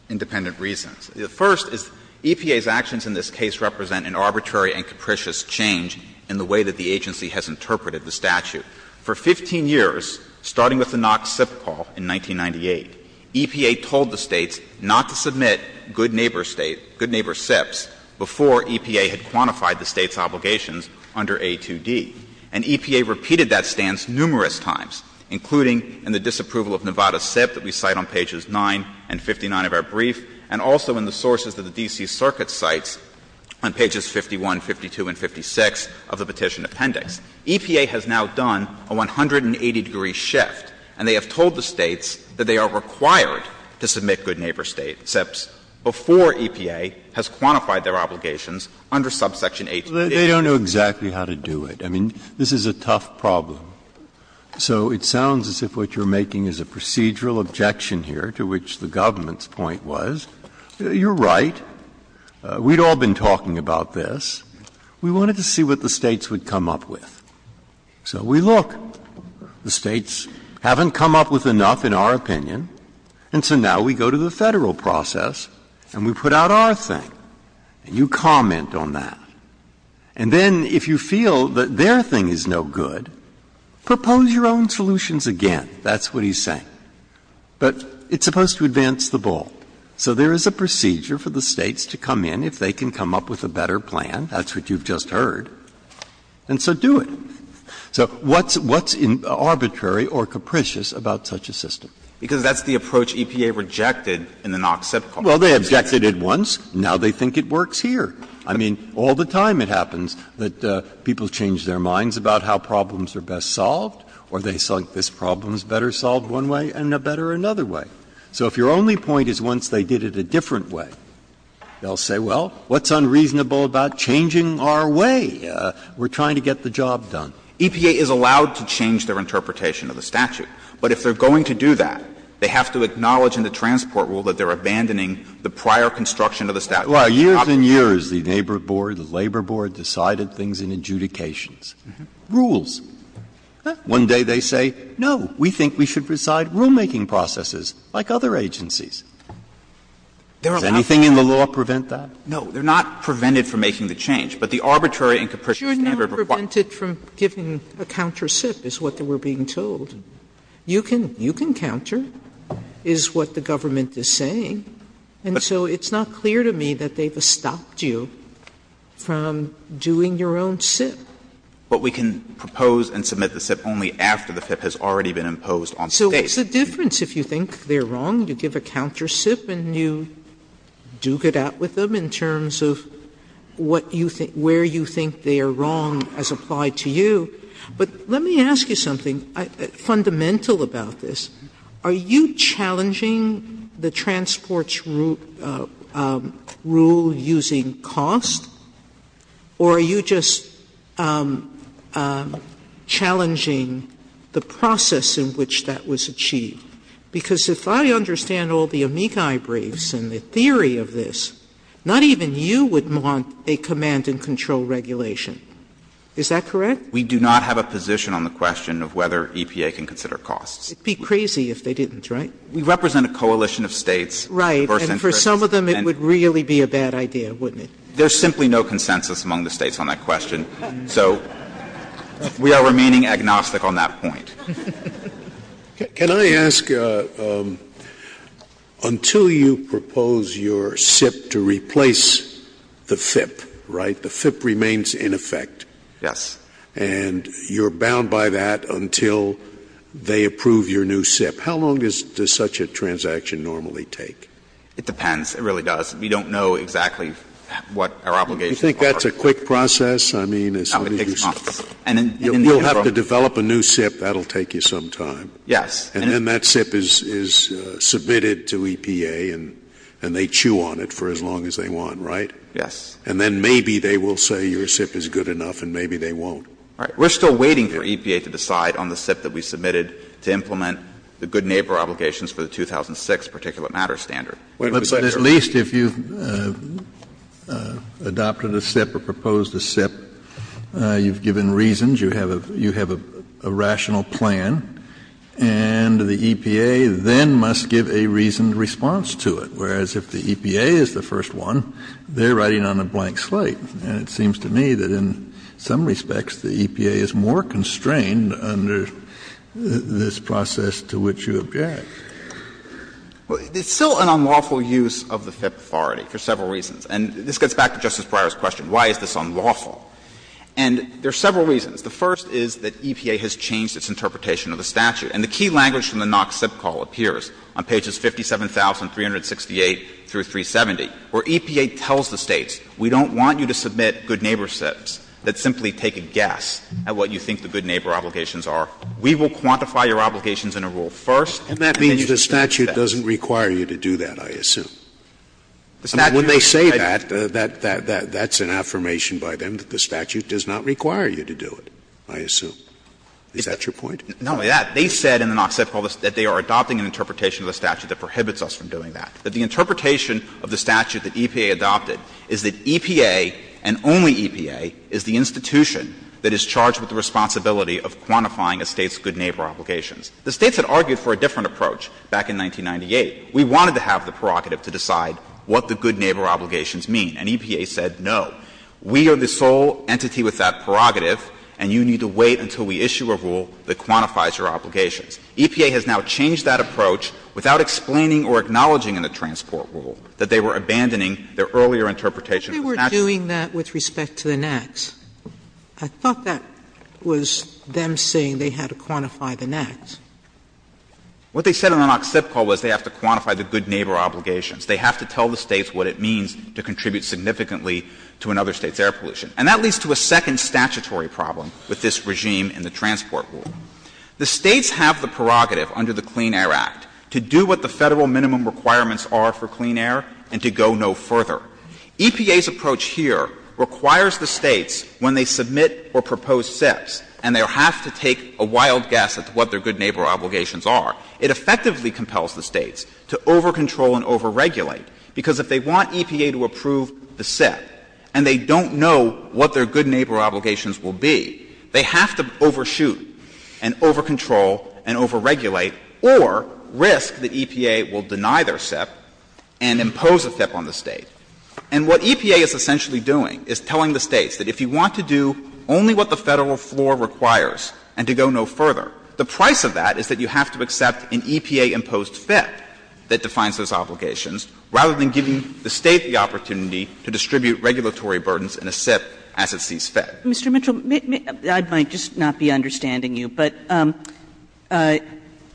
independent reasons. The first is EPA's actions in this case represent an arbitrary and capricious change in the way that the agency has interpreted the statute. For 15 years, starting with the NAAQS SIF call in 1998, EPA told the states not to submit good neighbor states, good neighbor SIFs, before EPA had quantified the states' obligations under A2D. And EPA repeated that stance numerous times, including in the disapproval of Nevada SIF that we cite on pages 9 and 59 of our brief, and also in the sources of the D.C. Circuit Cites on pages 51, 52, and 56 of the petition appendix. EPA has now done a 180-degree shift, and they have told the states that they are required to submit good neighbor states, SIFs, before EPA has quantified their obligations under subsection A2D. They don't know exactly how to do it. I mean, this is a tough problem. So it sounds as if what you're making is a procedural objection here, to which the government's point was, you're right, we'd all been talking about this. We wanted to see what the states would come up with. So we look. The states haven't come up with enough, in our opinion, and so now we go to the federal process and we put out our thing, and you comment on that. And then, if you feel that their thing is no good, propose your own solutions again. That's what he's saying. But it's supposed to advance the ball. So there is a procedure for the states to come in if they can come up with a better plan. That's what you've just heard. And so do it. So what's arbitrary or capricious about such a system? Because that's the approach EPA rejected in the NOC SIF clause. Well, they objected it once. Now they think it works here. I mean, all the time it happens that people change their minds about how problems are best solved, or they select this problem's better solved one way and a better another way. So if your only point is once they did it a different way, they'll say, well, what's unreasonable about changing our way? We're trying to get the job done. EPA is allowed to change their interpretation of the statute, but if they're going to do that, they have to acknowledge in the transport rule that they're abandoning the prior construction of the statute. Well, years and years the Labor Board decided things in adjudications. Rules. One day they say, no, we think we should preside rulemaking processes like other agencies. Does anything in the law prevent that? No, they're not prevented from making the change, but the arbitrary and capricious... You're never prevented from giving a counter SIF, is what they were being told. You can counter, is what the government is saying. So it's not clear to me that they've stopped you from doing your own SIF. But we can propose and submit the SIF only after the SIF has already been imposed on states. So what's the difference if you think they're wrong? You give a counter SIF and you duke it out with them in terms of where you think they are wrong as applied to you. But let me ask you something fundamental about this. Are you challenging the transports rule using costs? Or are you just challenging the process in which that was achieved? Because if I understand all the amici briefs and the theory of this, not even you would want a command and control regulation. Is that correct? We do not have a position on the question of whether EPA can consider costs. It would be crazy if they didn't, right? We represent a coalition of states. Right, and for some of them it would really be a bad idea, wouldn't it? There's simply no consensus among the states on that question. So we are remaining agnostic on that point. Can I ask, until you propose your SIF to replace the FIP, right? The FIP remains in effect. Yes. And you're bound by that until they approve your new SIF. How long does such a transaction normally take? It depends. It really does. We don't know exactly what our obligations are. Do you think that's a quick process? You'll have to develop a new SIF. That will take you some time. Yes. And then that SIF is submitted to EPA and they chew on it for as long as they want, right? Yes. And then maybe they will say your SIF is good enough and maybe they won't. Right. We're still waiting for EPA to decide on the SIF that we submitted to implement the good neighbor obligations for the 2006 Particular Matters Standard. But at least if you've adopted a SIF or proposed a SIF, you've given reasons, you have a rational plan, and the EPA then must give a reasoned response to it. Well, it's still an unlawful use of the FIP authority for several reasons. And this gets back to Justice Breyer's question, why is this unlawful? And there are several reasons. The first is that EPA has changed its interpretation of the statute. And the key language from the NOC SIP call appears on pages 57,368 and 57,000. Where EPA tells the States, we don't want you to submit good neighbor SIFs. Let's simply take a guess at what you think the good neighbor obligations are. We will quantify your obligations in a rule first. And that means the statute doesn't require you to do that, I assume. When they say that, that's an affirmation by them that the statute does not require you to do it, I assume. Is that your point? No, yeah. They said in the NOC SIP call that they are adopting an interpretation of the statute that prohibits us from doing that. That the interpretation of the statute that EPA adopted is that EPA and only EPA is the institution that is charged with the responsibility of quantifying a State's good neighbor obligations. The States had argued for a different approach back in 1998. We wanted to have the prerogative to decide what the good neighbor obligations mean. And EPA said, no. We are the sole entity with that prerogative, and you need to wait until we issue a rule that quantifies your obligations. EPA has now changed that approach without explaining or acknowledging in the transport rule that they were abandoning their earlier interpretation of the statute. They were doing that with respect to the NACs. I thought that was them saying they had to quantify the NACs. What they said in the NOC SIP call was they have to quantify the good neighbor obligations. They have to tell the States what it means to contribute significantly to another State's air pollution. And that leads to a second statutory problem with this regime in the transport rule. The States have the prerogative under the Clean Air Act to do what the Federal minimum requirements are for clean air and to go no further. EPA's approach here requires the States, when they submit or propose SIPs, and they have to take a wild guess at what their good neighbor obligations are, it effectively compels the States to over-control and over-regulate. Because if they want EPA to approve the SIP and they don't know what their good neighbor obligations will be, they have to overshoot and over-control and over-regulate or risk that EPA will deny their SIP and impose a SIP on the State. And what EPA is essentially doing is telling the States that if you want to do only what the Federal floor requires and to go no further, the price of that is that you have to accept an EPA-imposed SIP that defines those obligations, rather than giving the States the opportunity to distribute regulatory burdens in a SIP as it sees fit. Mr. Mitchell, I might just not be understanding you, but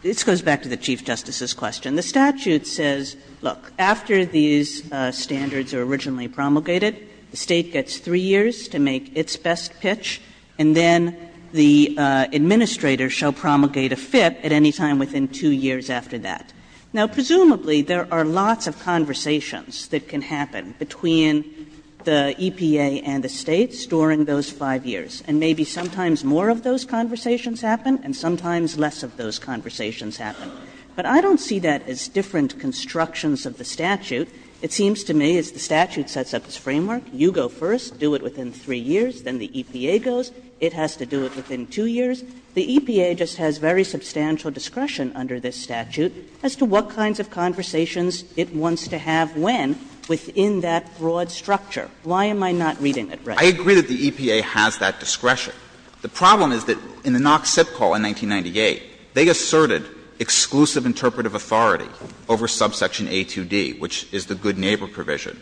this goes back to the Chief Justice's question. The statute says, look, after these standards are originally promulgated, the State gets three years to make its best pitch, and then the administrator shall promulgate a FIP at any time within two years after that. Now, presumably, there are lots of conversations that can happen between the EPA and the States during those five years, and maybe sometimes more of those conversations happen and sometimes less of those conversations happen. But I don't see that as different constructions of the statute. It seems to me, as the statute sets up its framework, you go first, do it within three years, then the EPA goes. It has to do it within two years. The EPA just has very substantial discretion under this statute as to what kinds of conversations it wants to have when within that broad structure. Why am I not reading it right? I agree that the EPA has that discretion. The problem is that in the Knox SIP call in 1998, they asserted exclusive interpretive authority over subsection A2D, which is the good neighbor provision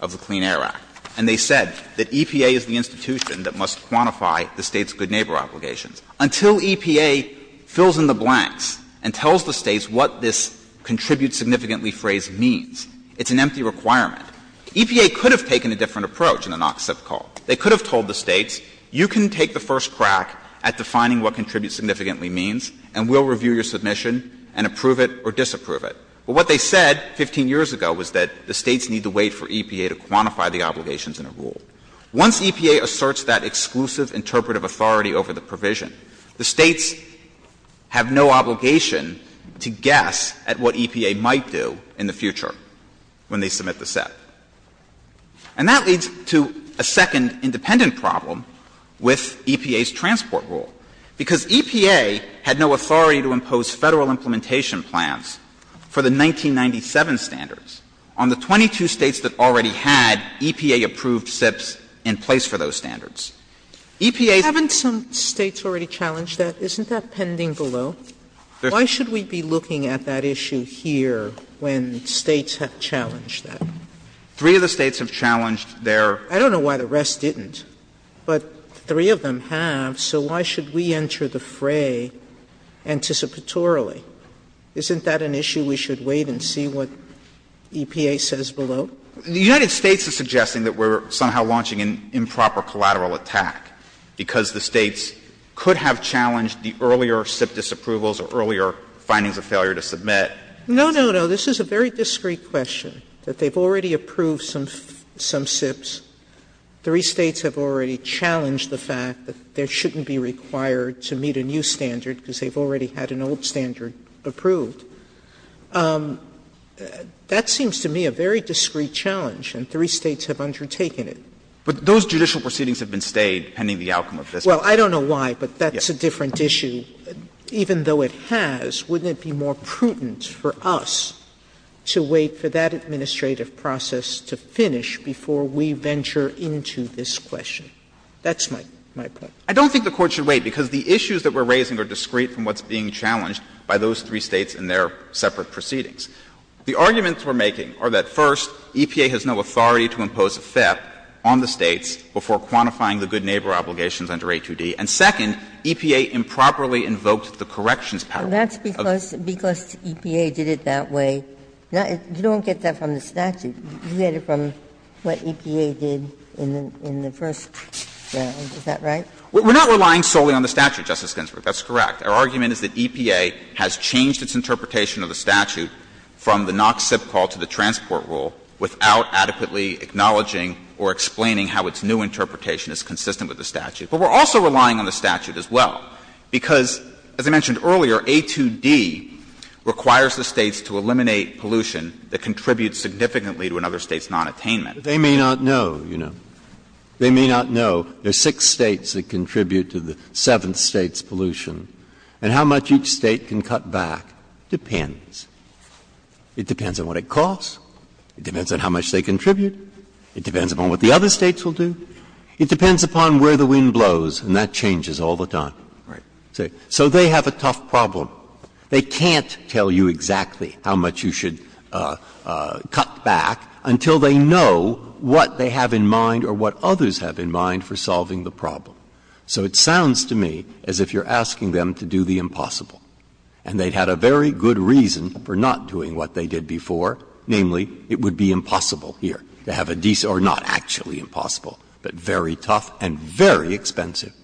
of the Clean Air Act. And they said that EPA is the institution that must quantify the State's good neighbor obligations. Until EPA fills in the blanks and tells the States what this contribute significantly phrase means, it's an empty requirement. EPA could have taken a different approach in the Knox SIP call. They could have told the States, you can take the first crack at defining what contribute significantly means and we'll review your submission and approve it or disapprove it. But what they said 15 years ago was that the States need to wait for EPA to quantify the obligations in a rule. Once EPA asserts that exclusive interpretive authority over the provision, the States have no obligation to guess at what EPA might do in the future when they submit the set. And that leads to a second independent problem with EPA's transport rule. Because EPA had no authority to impose federal implementation plans for the 1997 standards on the 22 States that already had EPA-approved SIPs in place for those standards. Haven't some States already challenged that? Isn't that pending below? Why should we be looking at that issue here when States have challenged that? Three of the States have challenged their... I don't know why the rest didn't. But three of them have, so why should we enter the fray anticipatorily? Isn't that an issue we should wait and see what EPA says below? The United States is suggesting that we're somehow launching an improper collateral attack because the States could have challenged the earlier SIP disapprovals or earlier findings of failure to submit. No, no, no. This is a very discreet question, that they've already approved some SIPs. Three States have already challenged the fact that they shouldn't be required to meet a new standard because they've already had an old standard approved. That seems to me a very discreet challenge, and three States have undertaken it. But those judicial proceedings have been stayed pending the outcome of this case. Well, I don't know why, but that's a different issue. Even though it has, wouldn't it be more prudent for us to wait for that administrative process to finish before we venture into this question? That's my question. I don't think the Court should wait because the issues that we're raising are discreet from what's being challenged by those three States and their separate proceedings. The arguments we're making are that, first, EPA has no authority to impose a theft on the States before quantifying the good neighbor obligations under A2D. And, second, EPA improperly invokes the corrections power. Well, that's because EPA did it that way. You don't get that from the statute. You get it from what EPA did in the first statute. Is that right? We're not relying solely on the statute, Justice Ginsburg. That's correct. Our argument is that EPA has changed its interpretation of the statute from the NOx SIP call to the transport rule without adequately acknowledging or explaining how its new interpretation is consistent with the statute. But we're also relying on the statute as well because, as I mentioned earlier, A2D requires the States to eliminate pollution that contributes significantly to another State's nonattainment. They may not know, you know. They may not know. There are six States that contribute to the seventh State's pollution. And how much each State can cut back depends. It depends on what it costs. It depends on how much they contribute. It depends upon what the other States will do. It depends upon where the wind blows. And that changes all the time. Right. So they have a tough problem. They can't tell you exactly how much you should cut back until they know what they have in mind or what others have in mind for solving the problem. So it sounds to me as if you're asking them to do the impossible. And they had a very good reason for not doing what they did before. Namely, it would be impossible here. They have a decent, or not actually impossible, but very tough and very expensive.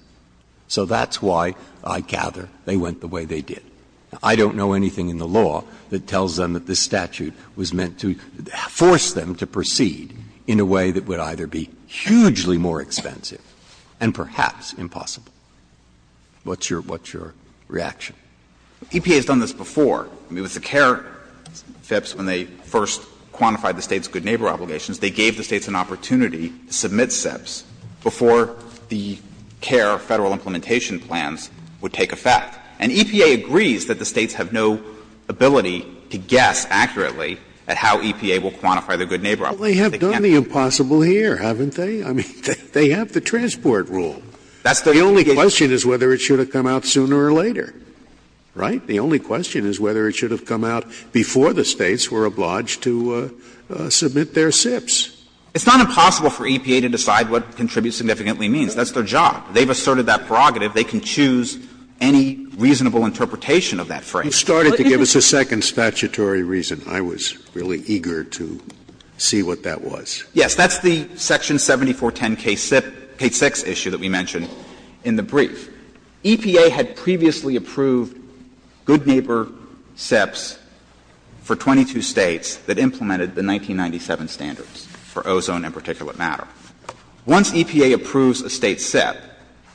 So that's why I gather they went the way they did. I don't know anything in the law that tells them that this statute was meant to force them to proceed in a way that would either be hugely more expensive and perhaps impossible. What's your reaction? EPA has done this before. I mean, it was the CARES steps when they first quantified the State's good neighbor obligations. They gave the States an opportunity to submit SIPs before the CARE federal implementation plans would take effect. And EPA agrees that the States have no ability to guess accurately at how EPA will quantify the good neighbor obligation. Well, they have done the impossible here, haven't they? I mean, they have the transport rule. The only question is whether it should have come out sooner or later. Right? The only question is whether it should have come out before the States were obliged to submit their SIPs. It's not impossible for EPA to decide what contributes significantly means. That's their job. They've asserted that prerogative. They can choose any reasonable interpretation of that phrase. You started to give us a second statutory reason. I was really eager to see what that was. Yes, that's the Section 7410K6 issue that we mentioned in the brief. EPA had previously approved good neighbor SIPs for 22 States that implemented the 1997 standards for ozone and particulate matter. Once EPA approves a State SIP,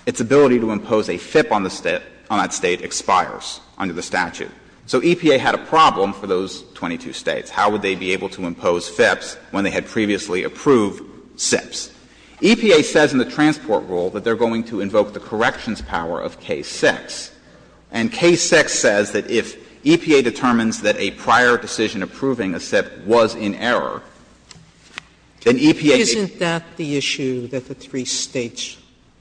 its ability to impose a FIP on that State expires under the statute. So EPA had a problem for those 22 States. How would they be able to impose SIPs when they had previously approved SIPs? EPA says in the transport rule that they're going to invoke the corrections power of K6. And K6 says that if EPA determines that a prior decision approving a SIP was in error, then EPA — Isn't that the issue that the three States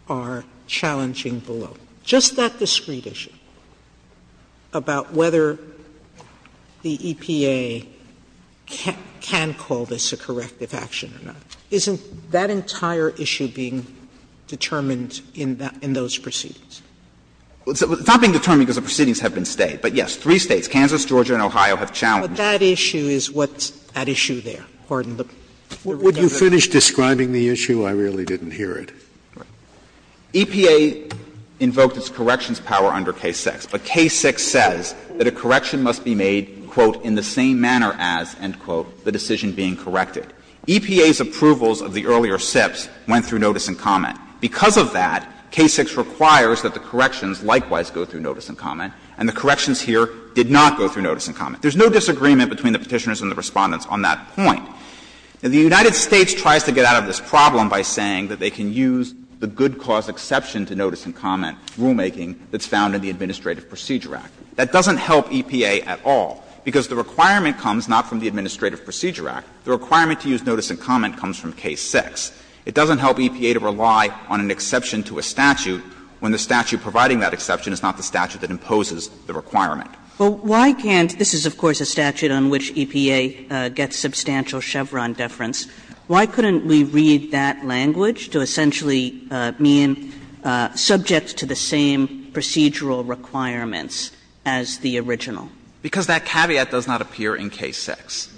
are challenging below? Just that discrete issue about whether the EPA can call this a corrective action or not. Isn't that entire issue being determined in those proceedings? It's not being determined because the proceedings have been stayed. But, yes, three States, Kansas, Georgia, and Ohio, have challenged. But that issue is what's at issue there. Would you finish describing the issue? I really didn't hear it. EPA invokes its corrections power under K6. But K6 says that a correction must be made, quote, in the same manner as, end quote, the decision being corrected. EPA's approvals of the earlier SIPs went through notice and comment. Because of that, K6 requires that the corrections likewise go through notice and comment, and the corrections here did not go through notice and comment. There's no disagreement between the Petitioners and the Respondents on that point. And the United States tries to get out of this problem by saying that they can use the good cause exception to notice and comment rulemaking that's found in the Administrative Procedure Act. That doesn't help EPA at all, because the requirement comes not from the Administrative Procedure Act. The requirement to use notice and comment comes from K6. It doesn't help EPA to rely on an exception to a statute when the statute providing that exception is not the statute that imposes the requirement. Well, why can't this is, of course, a statute on which EPA gets substantial Chevron deference. Why couldn't we read that language to essentially mean subjects to the same procedural requirements as the original? Because that caveat does not appear in K6.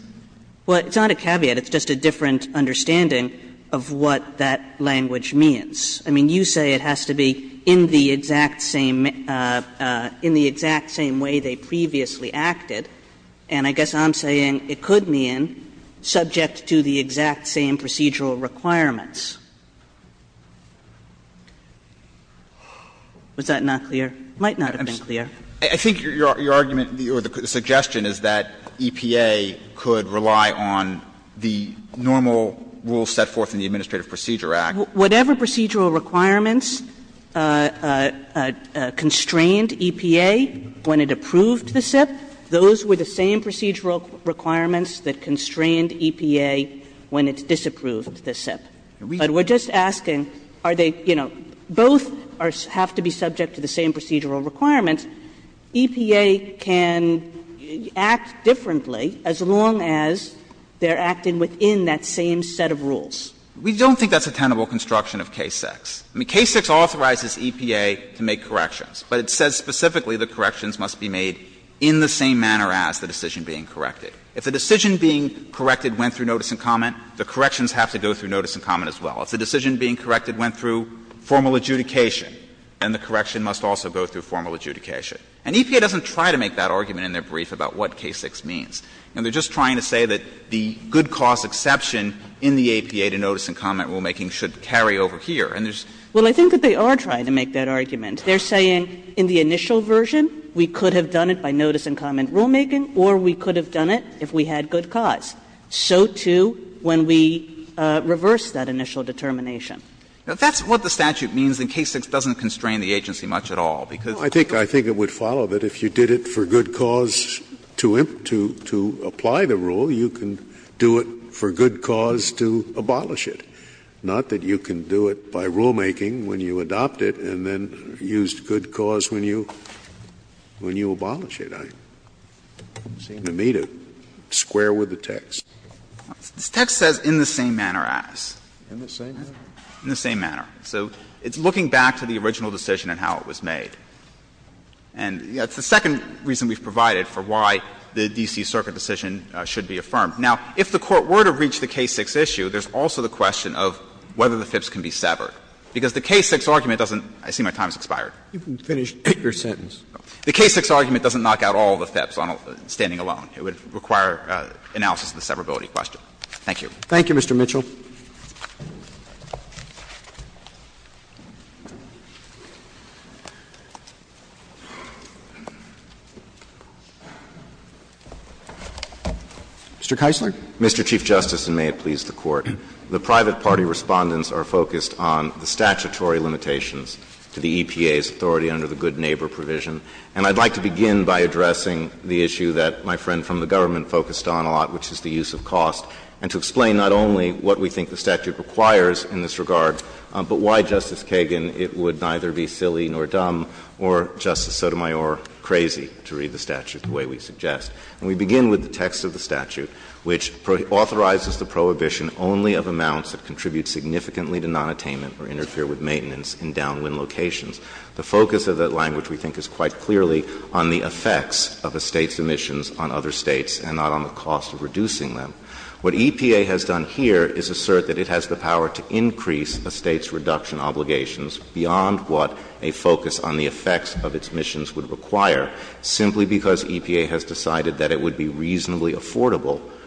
Well, it's not a caveat. It's just a different understanding of what that language means. I mean, you say it has to be in the exact same way they previously acted, and I guess I'm saying it could mean subjects to the exact same procedural requirements. Was that not clear? It might not have been clear. I think your argument or the suggestion is that EPA could rely on the normal rules set forth in the Administrative Procedure Act. Whatever procedural requirements constrained EPA when it approved the SIP, those were the same procedural requirements that constrained EPA when it disapproved the SIP. But we're just asking, are they, you know, both have to be subject to the same procedural requirements. EPA can act differently as long as they're acting within that same set of rules. We don't think that's a tenable construction of K6. I mean, K6 authorizes EPA to make corrections, but it says specifically that corrections must be made in the same manner as the decision being corrected. If the decision being corrected went through notice and comment, the corrections have to go through notice and comment as well. If the decision being corrected went through formal adjudication, then the correction must also go through formal adjudication. And EPA doesn't try to make that argument in their brief about what K6 means. And they're just trying to say that the good cause exception in the APA to notice and comment rulemaking should carry over here. And there's — Well, I think that they are trying to make that argument. They're saying in the initial version, we could have done it by notice and comment rulemaking, or we could have done it if we had good cause. So, too, when we reversed that initial determination. That's what the statute means, and K6 doesn't constrain the agency much at all. I think it would follow that if you did it for good cause to apply the rule, you can do it for good cause to abolish it, not that you can do it by rulemaking when you adopt it and then use good cause when you abolish it. It seemed to me to square with the text. This text says in the same manner as. In the same manner. In the same manner. So it's looking back to the original decision and how it was made. And, you know, it's the second reason we've provided for why the D.C. Circuit decision should be affirmed. Now, if the Court were to reach the K6 issue, there's also the question of whether the FIPS can be severed, because the K6 argument doesn't — I see my time has expired. You can finish your sentence. The K6 argument doesn't knock out all the FIPS standing alone. It would require analysis of the severability question. Thank you. Thank you, Mr. Mitchell. Mr. Keisler? Mr. Chief Justice, and may it please the Court, the private party respondents are focused on the statutory limitations to the EPA's authority under the Good Neighbor provision. And I'd like to begin by addressing the issue that my friend from the government focused on a lot, which is the use of cost, and to explain not only what we think the statute requires in this regard, but why, Justice Kagan, it would neither be silly nor dumb or, Justice Sotomayor, crazy to read the statute the way we suggest. And we begin with the text of the statute, which authorizes the prohibition only of amounts that contribute significantly to nonattainment or interfere with maintenance in downwind locations. The focus of that language, we think, is quite clearly on the effects of a state's emissions on other states, and not on the cost of reducing them. What EPA has done here is assert that it has the power to increase a state's reduction obligations beyond what a focus on the effects of its emissions would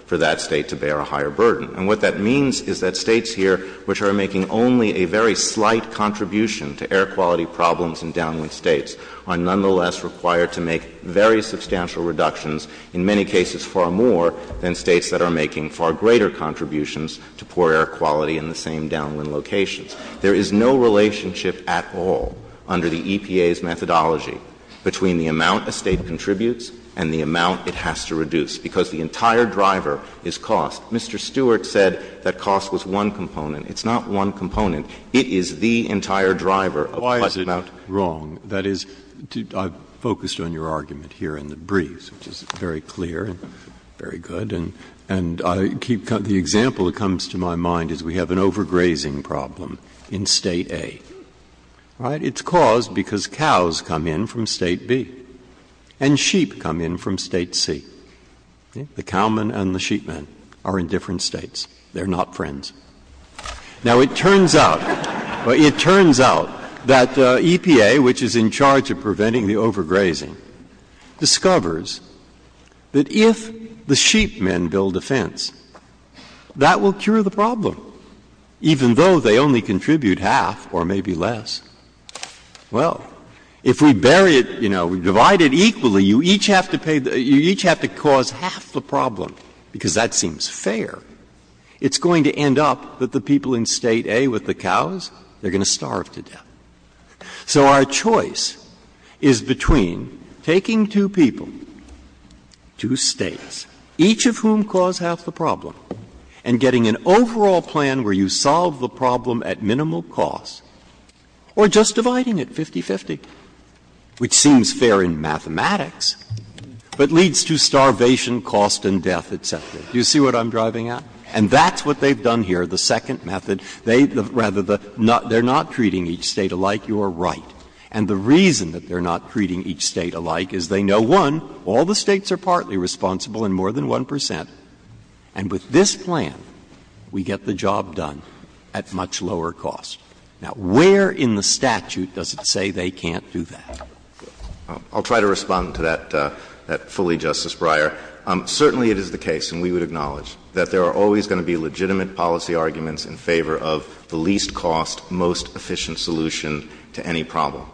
for that state to bear a higher burden. And what that means is that states here, which are making only a very slight contribution to air quality problems in downwind states, are nonetheless required to make very substantial reductions, in many cases far more than states that are making far greater contributions to poor air quality in the same downwind locations. There is no relationship at all under the EPA's methodology between the amount a state contributes and the amount it has to reduce, because the entire driver is cost. Mr. Stewart said that cost was one component. It's not one component. It is the entire driver. Why is it wrong? That is, I've focused on your argument here in the briefs, which is very clear and very good, and the example that comes to my mind is we have an overgrazing problem in state A. It's caused because cows come in from state B and sheep come in from state C. The cowmen and the sheepmen are in different states. They're not friends. Now, it turns out that EPA, which is in charge of preventing the overgrazing, discovers that if the sheepmen build a fence, that will cure the problem, even though they only contribute half or maybe less. Well, if we vary it, you know, we divide it equally, you each have to cause half the problem, because that seems fair. It's going to end up that the people in state A with the cows, they're going to starve to death. So our choice is between taking two people, two states, each of whom cause half the problem, and getting an overall plan where you solve the problem at minimal cost, or just dividing it 50-50, which seems fair in mathematics, but leads to starvation, cost, and death, etc. Do you see what I'm driving at? And that's what they've done here, the second method. Rather, they're not treating each state alike. You're right. And the reason that they're not treating each state alike is they know, one, all the states are partly responsible and more than 1%, and with this plan, we get the job done at much lower cost. Now, where in the statute does it say they can't do that? I'll try to respond to that fully, Justice Breyer. Certainly it is the case, and we would acknowledge, that there are always going to be legitimate policy arguments in favor of the least cost, most efficient solution to any problem.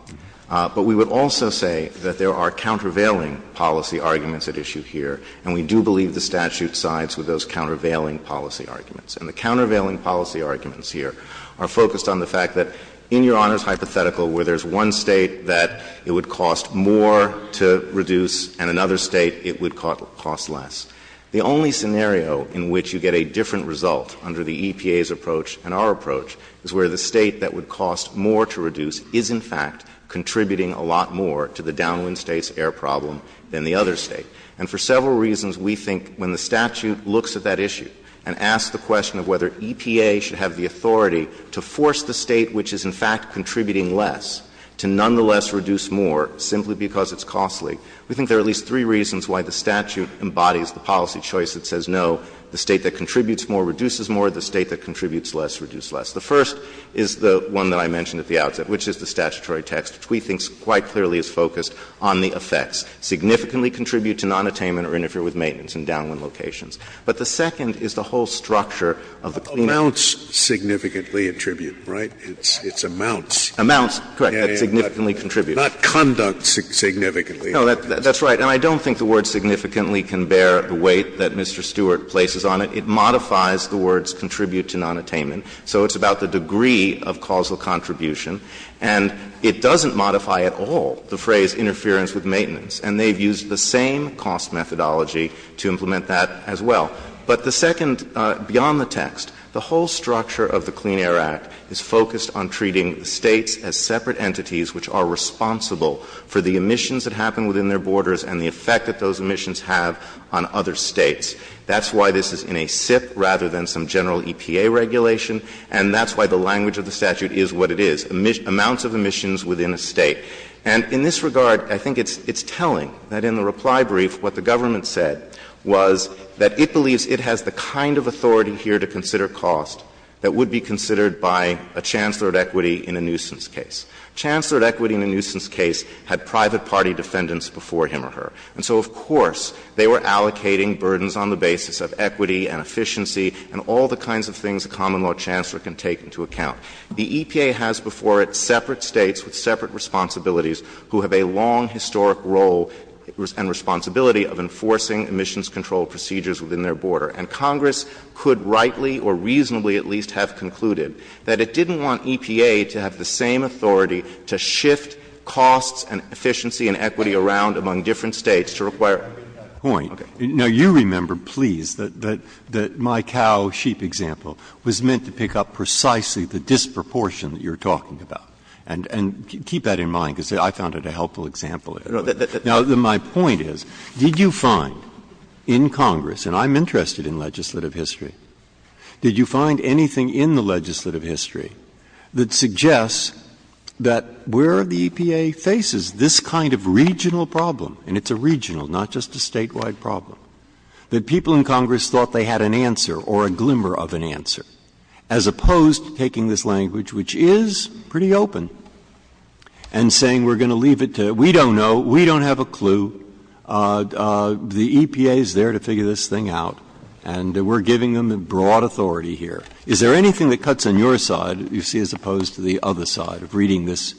But we would also say that there are countervailing policy arguments at issue here, and we do believe the statute sides with those countervailing policy arguments. And the countervailing policy arguments here are focused on the fact that, in your Honor's hypothetical, where there's one state that it would cost more to reduce and another state it would cost less, the only scenario in which you get a different result under the EPA's approach and our approach is where the state that would cost more to reduce is, in fact, contributing a lot more to the Downwind State's air problem than the other state. And for several reasons, we think when the statute looks at that issue and asks the question of whether EPA should have the authority to force the state which is, in fact, contributing less to nonetheless reduce more simply because it's costly, we think there are at least three reasons why the statute embodies the policy choice that says no, the state that contributes more reduces more, the state that contributes less reduces less. The first is the one that I mentioned at the outset, which is the statutory text, which we think quite clearly is focused on the effects. Significantly contribute to nonattainment or interfere with maintenance in downwind locations. But the second is the whole structure of the claimant. Amounts significantly attribute, right? It's amounts. Amounts, correct, that significantly contribute. Not conduct significantly. No, that's right, and I don't think the word significantly can bear the weight that Mr. Stewart places on it. It modifies the words contribute to nonattainment, so it's about the degree of causal contribution, and it doesn't modify at all the phrase interference with maintenance, and they've used the same cost methodology to implement that as well. But the second, beyond the text, the whole structure of the Clean Air Act is focused on treating states as separate entities which are responsible for the emissions that happen within their borders and the effect that those emissions have on other states. That's why this is in a SIPP rather than some general EPA regulation, and that's why the language of the statute is what it is, amounts of emissions within a state. And in this regard, I think it's telling that in the reply brief what the government said was that it believes it has the kind of authority here to consider cost that would be considered by a chancellor of equity in a nuisance case. Chancellor of equity in a nuisance case had private party defendants before him or her, and so, of course, they were allocating burdens on the basis of equity and efficiency and all the kinds of things a common law chancellor can take into account. The EPA has before it separate states with separate responsibilities who have a long historic role and responsibility of enforcing emissions control procedures within their border. And Congress could rightly or reasonably at least have concluded that it didn't want EPA to have the same authority to shift costs and efficiency and equity around among different states to require it. Now you remember, please, that my cow sheep example was meant to pick up precisely the disproportion that you're talking about. And keep that in mind because I found it a helpful example. Now my point is, did you find in Congress, and I'm interested in legislative history, did you find anything in the legislative history that suggests that where the EPA faces this kind of regional problem, and it's a regional, not just a statewide problem, that people in Congress thought they had an answer or a glimmer of an answer as opposed to taking this language, which is pretty open, and saying we're going to leave it to, we don't know, we don't have a clue, the EPA is there to figure this thing out, and we're giving them broad authority here. Is there anything that cuts on your side that you see as opposed to the other side of reading this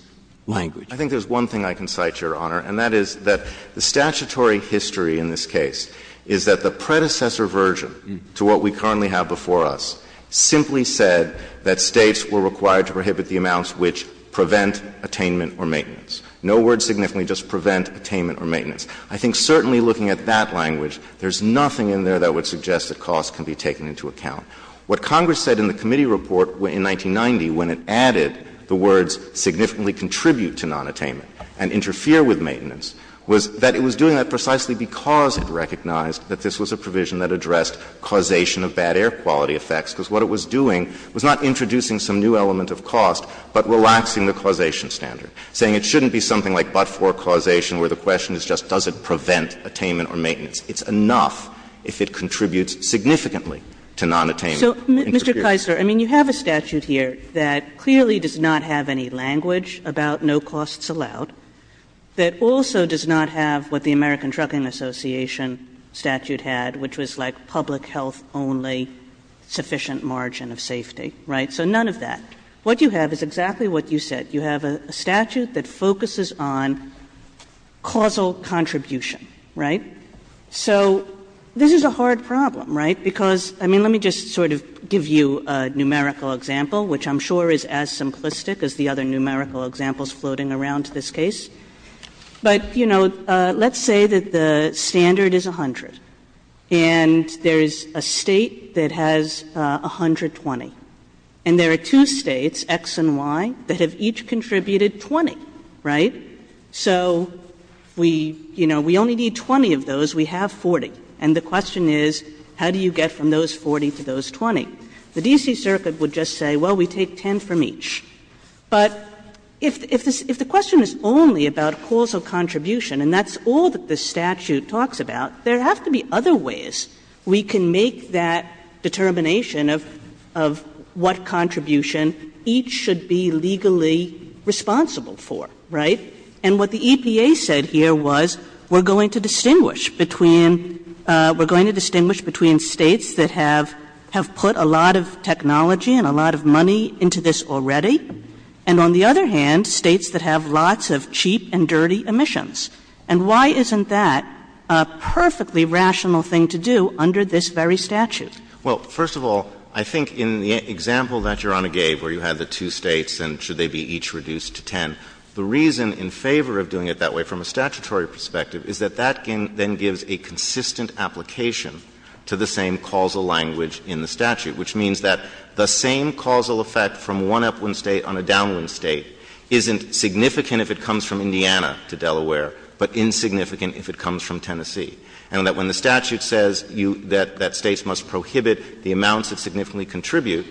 language? I think there's one thing I can cite, Your Honor, and that is that the statutory history in this case is that the predecessor version to what we currently have before us simply said that states were required to prohibit the amounts which prevent attainment or maintenance. No word significantly, just prevent attainment or maintenance. I think certainly looking at that language, there's nothing in there that would suggest that costs can be taken into account. What Congress said in the committee report in 1990 when it added the words significantly contribute to nonattainment and interfere with maintenance was that it was doing that precisely because it recognized that this was a provision that addressed causation of bad air quality effects, because what it was doing was not introducing some new element of cost, but relaxing the causation standard, saying it shouldn't be something like but-for causation where the question is just does it prevent attainment or maintenance. It's enough if it contributes significantly to nonattainment. So, Mr. Keiser, I mean, you have a statute here that clearly does not have any language about no costs allowed, that also does not have what the American Trucking Association statute had, which was like public health only sufficient margin of safety, right? So none of that. What you have is exactly what you said. You have a statute that focuses on causal contribution, right? So this is a hard problem, right? Because, I mean, let me just sort of give you a numerical example, which I'm sure is as simplistic as the other numerical examples floating around this case. But, you know, let's say that the standard is 100, and there is a state that has 120. And there are two states, X and Y, that have each contributed 20, right? So we only need 20 of those. We have 40. And the question is how do you get from those 40 to those 20? The D.C. Circuit would just say, well, we take 10 from each. But if the question is only about causal contribution, and that's all that the statute talks about, there have to be other ways we can make that determination of what contribution each should be legally responsible for, right? And what the EPA said here was we're going to distinguish between states that have put a lot of technology and a lot of money into this already, and on the other hand, states that have lots of cheap and dirty emissions. And why isn't that a perfectly rational thing to do under this very statute? Well, first of all, I think in the example that Your Honor gave where you had the two states and should they be each reduced to 10, the reason in favor of doing it that way from a statutory perspective is that that then gives a consistent application to the same causal language in the statute, which means that the same causal effect from one upwind state on a downwind state isn't significant if it comes from Indiana to Delaware, but insignificant if it comes from Tennessee. And that when the statute says that states must prohibit the amounts that significantly contribute,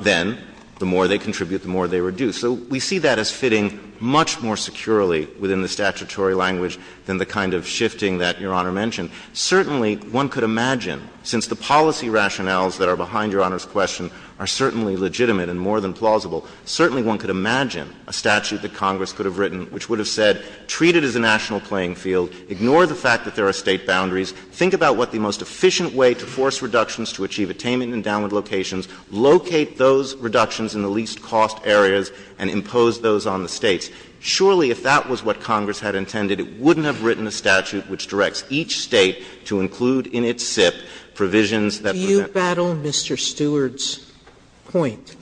then the more they contribute, the more they reduce. So we see that as fitting much more securely within the statutory language than the kind of shifting that Your Honor mentioned. Certainly, one could imagine, since the policy rationales that are behind Your Honor's question are certainly legitimate and more than plausible, certainly one could imagine a statute that Congress could have written which would have said, treat it as a national playing field, ignore the fact that there are state boundaries, think about what the most efficient way to force reductions to achieve attainment in downward locations, locate those reductions in the least cost areas, and impose those on the states. Surely, if that was what Congress had intended, it wouldn't have written a statute that would have said that states must prohibit the amounts that significantly contribute. The statute would have said, treat it as a national playing field, ignore the fact that there are state boundaries, think about what the most efficient way And this would have been a statute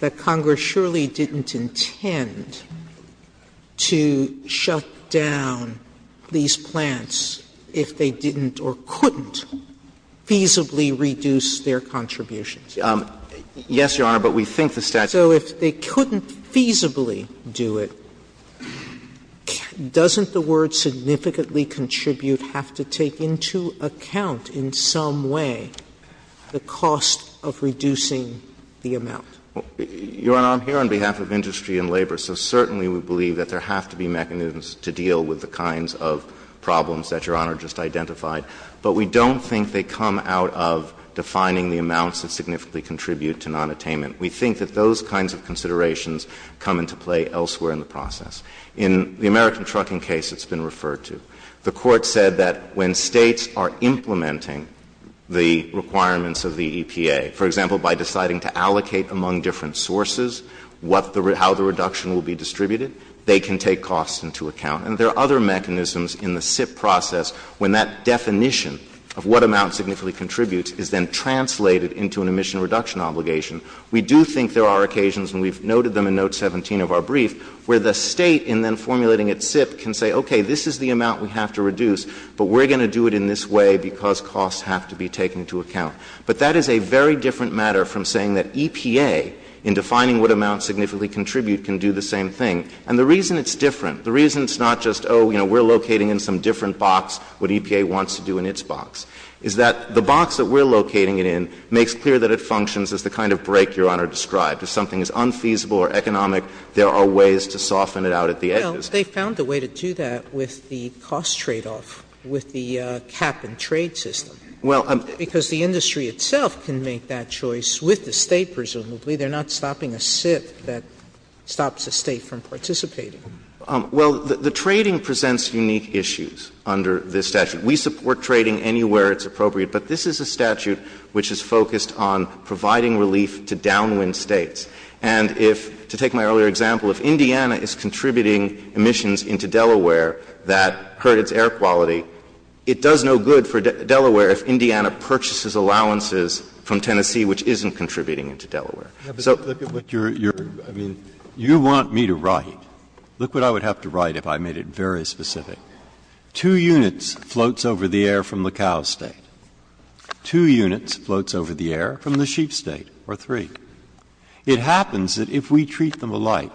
that Congress would have written, which would have said, treat it as a national playing field, have to take into account in some way the cost of reducing the amount. Your Honor, I'm here on behalf of industry and labor, so certainly we believe that there have to be mechanisms to deal with the kinds of problems that Your Honor just identified. But we don't think they come out of defining the amounts that significantly contribute to nonattainment. We think that those kinds of considerations come into play elsewhere in the process. In the American trucking case, it's been referred to. The court said that when states are implementing the requirements of the EPA, for example, by deciding to allocate among different sources how the reduction will be distributed, they can take costs into account. And there are other mechanisms in the SIP process, when that definition of what amount significantly contributes is then translated into an emission reduction obligation. We do think there are occasions, and we've noted them in Note 17 of our brief, where the state, in then formulating its SIP, can say, okay, this is the amount we have to reduce, but we're going to do it in this way because costs have to be taken into account. But that is a very different matter from saying that EPA, in defining what amounts significantly contribute, can do the same thing. And the reason it's different, the reason it's not just, oh, you know, we're locating in some different box what EPA wants to do in its box, is that the box that we're locating it in makes clear that it functions as the kind of break Your Honor described. If something is unfeasible or economic, there are ways to soften it out at the edges. Well, they found a way to do that with the cost tradeoff, with the cap-and-trade system. Because the industry itself can make that choice with the state, presumably. They're not stopping a SIP that stops the state from participating. Well, the trading presents unique issues under this statute. We support trading anywhere it's appropriate, but this is a statute which is focused on providing relief to downwind states. And if, to take my earlier example, if Indiana is contributing emissions into Delaware that credits air quality, it does no good for Delaware if Indiana purchases allowances from Tennessee, which isn't contributing to Delaware. You want me to write. Look what I would have to write if I made it very specific. Two units floats over the air from the cow state. Two units floats over the air from the sheep state, or three. It happens that if we treat them alike,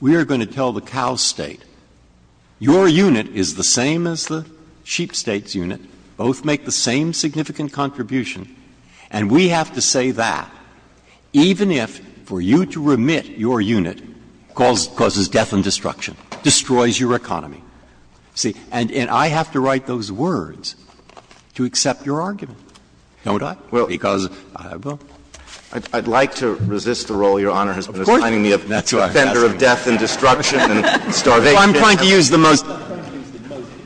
we are going to tell the cow state, your unit is the same as the sheep state's unit, both make the same significant contribution, and we have to say that, even if, for you to remit, your unit causes death and destruction, destroys your economy. See? And I have to write those words to accept your argument. Don't I? Because I will. I'd like to resist the role Your Honor has been assigning me of death and destruction and starvation. I'm trying to use the most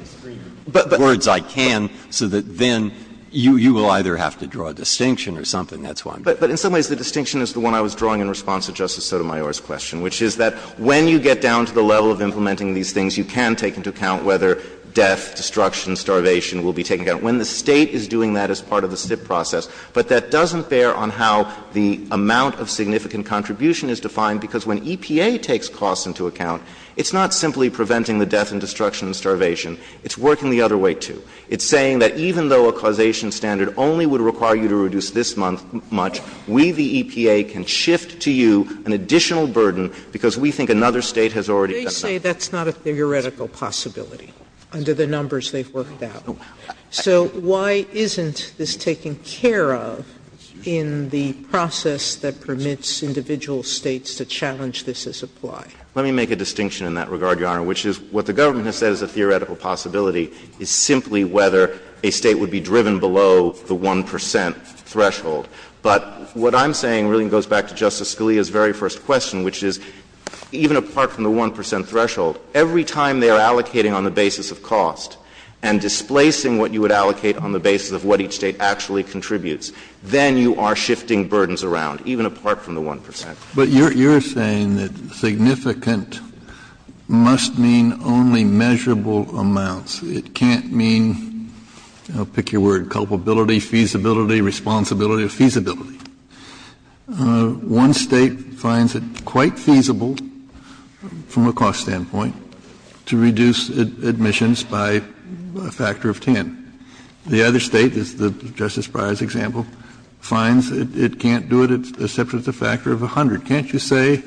extreme words I can so that then you will either have to draw a distinction or something. That's why I'm doing it. But in some ways, the distinction is the one I was drawing in response to Justice Sotomayor's question, which is that when you get down to the level of implementing these things, you can take into account whether death, destruction, starvation will be taken into account. When the State is doing that as part of the SIP process, but that doesn't bear on how the amount of significant contribution is defined, because when EPA takes costs into account, it's not simply preventing the death and destruction and starvation. It's working the other way, too. It's saying that even though a causation standard only would require you to reduce this much, we, the EPA, can shift to you an additional burden because we think another State has already done that. They say that's not a theoretical possibility under the numbers they've worked out. So why isn't this taken care of in the process that permits individual States to challenge this as applied? Let me make a distinction in that regard, Your Honor, which is what the government has said is a theoretical possibility is simply whether a State would be driven below the 1 percent threshold. But what I'm saying really goes back to Justice Scalia's very first question, which is even apart from the 1 percent threshold, every time they are allocating on the basis of cost and displacing what you would allocate on the basis of what each State actually contributes, then you are shifting burdens around, even apart from the 1 percent. But you're saying that significant must mean only measurable amounts. It can't mean, I'll pick your word, culpability, feasibility, responsibility, feasibility. One State finds it quite feasible from a cost standpoint to reduce admissions by a factor of 10. The other State, the Justice Breyer's example, finds it can't do it except with a factor of 100. Can't you say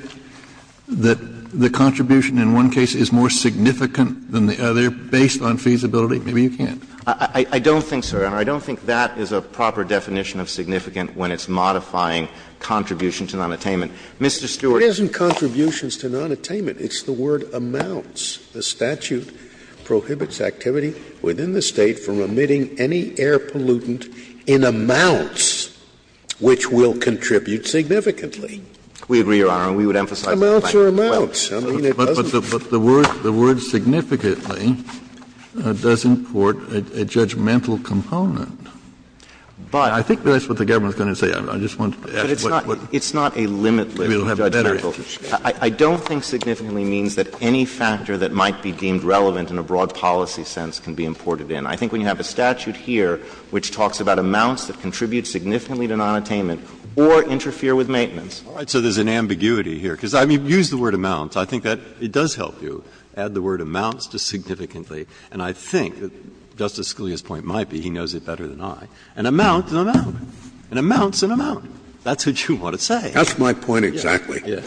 that the contribution in one case is more significant than the other based on feasibility? Do you think? I don't think so, Your Honor. I don't think that is a proper definition of significant when it's modifying contributions to nonattainment. Mr. Stewart— It isn't contributions to nonattainment. It's the word amounts. The statute prohibits activity within the State from emitting any air pollutant in amounts which will contribute significantly. We agree, Your Honor. We would emphasize— Amounts are amounts. I mean, it doesn't— But the word significantly does import a judgmental component. I think that's what the government is going to say. I just want to— It's not a limit limit. I don't think significantly means that any factor that might be deemed relevant in a broad policy sense can be imported in. I think we can have a statute here which talks about amounts that contribute significantly to nonattainment or interfere with maintenance. All right. So there's an ambiguity here. Because, I mean, use the word amounts. I think that it does help you add the word amounts to significantly. And I think that Justice Scalia's point might be—he knows it better than I—an amount's an amount. An amount's an amount. That's what you want to say. That's my point exactly. Yes. Yes.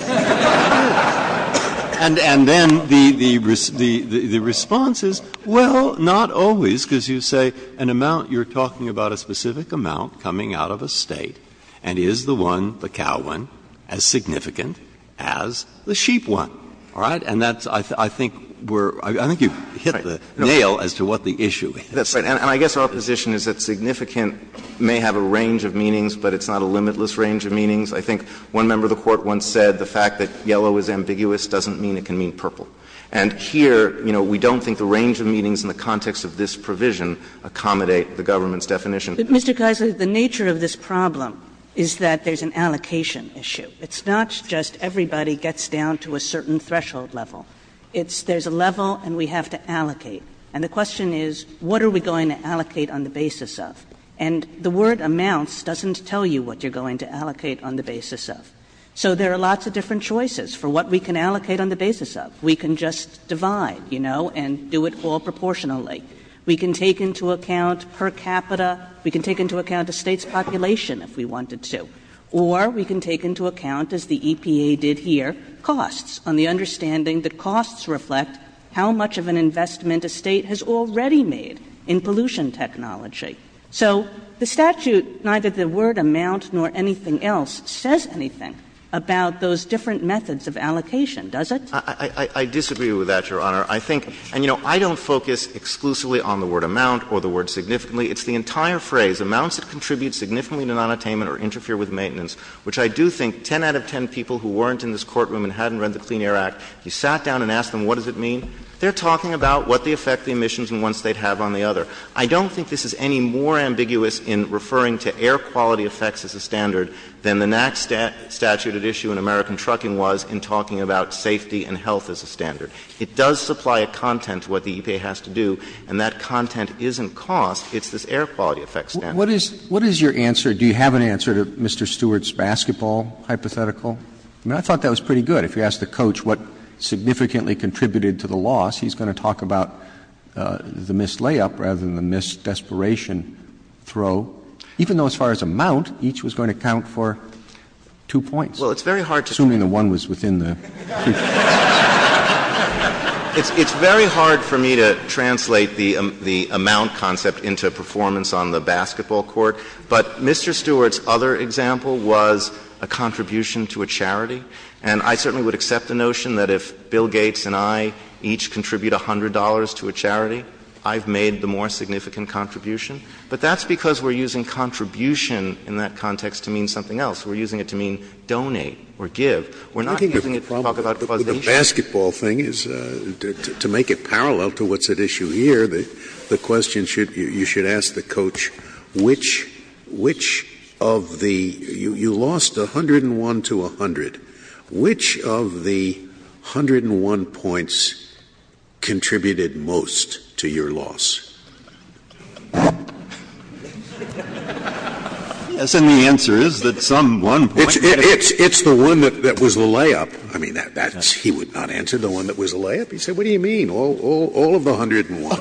And then the response is, well, not always, because you say an amount—you're talking about a specific amount coming out of a State and is the one, the cow one, as significant as the sheep one. All right? And that's—I think we're—I think you've hit the nail as to what the issue is. That's right. And I guess opposition is that significant may have a range of meanings, but it's not a limitless range of meanings. I think one member of the Court once said the fact that yellow is ambiguous doesn't mean it can mean purple. And here, you know, we don't think the range of meanings in the context of this provision accommodate the government's definition. But, Mr. Kessler, the nature of this problem is that there's an allocation issue. It's not just everybody gets down to a certain threshold level. It's—there's a level, and we have to allocate. And the question is, what are we going to allocate on the basis of? And the word amounts doesn't tell you what you're going to allocate on the basis of. So there are lots of different choices for what we can allocate on the basis of. We can just divide, you know, and do it all proportionally. We can take into account per capita. We can take into account the State's population if we wanted to. Or we can take into account, as the EPA did here, costs, on the understanding that costs reflect how much of an investment a State has already made in pollution technology. So the statute, neither the word amount nor anything else says anything about those different methods of allocation, does it? I disagree with that, Your Honor. I think—and, you know, I don't focus exclusively on the word amount or the word significantly. It's the entire phrase. Amounts that contribute significantly to nonattainment or interfere with maintenance, which I do think 10 out of 10 people who weren't in this courtroom and hadn't read the Clean Air Act, you sat down and asked them, what does it mean? They're talking about what the effect of the emissions in one State had on the other. I don't think this is any more ambiguous in referring to air quality effects as a standard than the next statute at issue in American trucking was in talking about safety and health as a standard. It does supply a content to what the EPA has to do, and that content isn't cost. It's this air quality effect standard. What is your answer? Do you have an answer to Mr. Stewart's basketball hypothetical? I mean, I thought that was pretty good. If you ask the coach what significantly contributed to the loss, he's going to talk about the missed layup rather than the missed desperation throw, even though as far as amount, each was going to count for two points. Well, it's very hard to— Assuming the one was within the— It's very hard for me to translate the amount concept into a performance on the basketball court, but Mr. Stewart's other example was a contribution to a charity, and I certainly would accept the notion that if Bill Gates and I each contribute $100 to a charity, I've made the more significant contribution, but that's because we're using contribution in that context to mean something else. We're using it to mean donate or give. The problem with the basketball thing is to make it parallel to what's at issue here, the question you should ask the coach, which of the—you lost 101 to 100. Which of the 101 points contributed most to your loss? The answer is that some one point— It's the one that was the layup. I mean, he would not answer the one that was the layup. He'd say, what do you mean, all of the 101?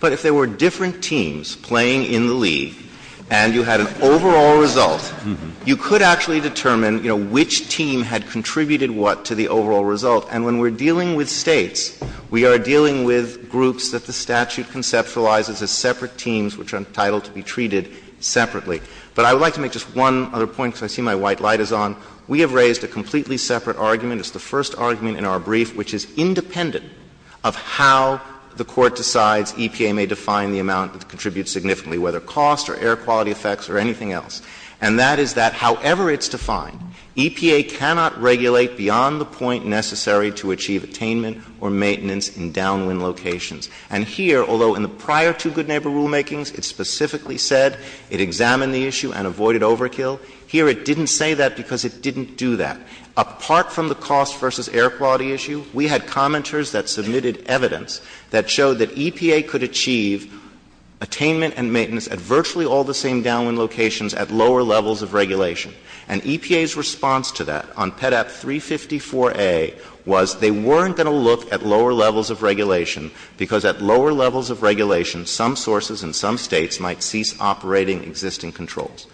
But if there were different teams playing in the league and you had an overall result, you could actually determine which team had contributed what to the overall result, and when we're dealing with states, we are dealing with groups that the statute conceptualizes as separate teams, which are entitled to be treated separately. But I would like to make just one other point, because I see my white light is on. We have raised a completely separate argument. It's the first argument in our brief, which is independent of how the court decides EPA may define the amount that contributes significantly, whether cost or air quality effects or anything else. And that is that however it's defined, EPA cannot regulate beyond the point necessary to achieve attainment or maintenance in downwind locations. And here, although in the prior two good neighbor rulemakings, it specifically said it examined the issue and avoided overkill, here it didn't say that because it didn't do that. Apart from the cost versus air quality issue, we had commenters that submitted evidence that showed that EPA could achieve attainment and maintenance at virtually all the same downwind locations at lower levels of regulation. And EPA's response to that on PEDAP 354A was they weren't going to look at lower levels of regulation because at lower levels of regulation, some sources in some states might cease operating existing controls.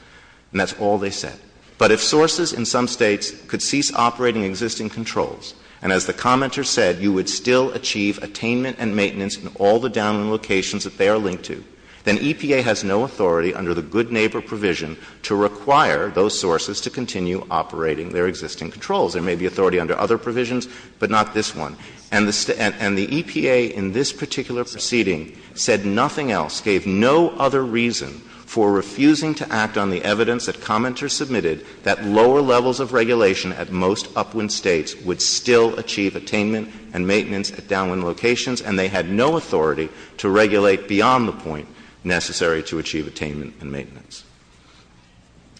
And that's all they said. But if sources in some states could cease operating existing controls, and as the commenter said, you would still achieve attainment and maintenance in all the downwind locations that they are linked to, then EPA has no authority under the good neighbor provision to require those sources to continue operating their existing controls. There may be authority under other provisions, but not this one. And the EPA in this particular proceeding said nothing else, gave no other reason for refusing to act on the evidence that commenters submitted that lower levels of regulation at most upwind states would still achieve attainment and maintenance at downwind locations, and they had no authority to regulate beyond the point necessary to achieve attainment and maintenance.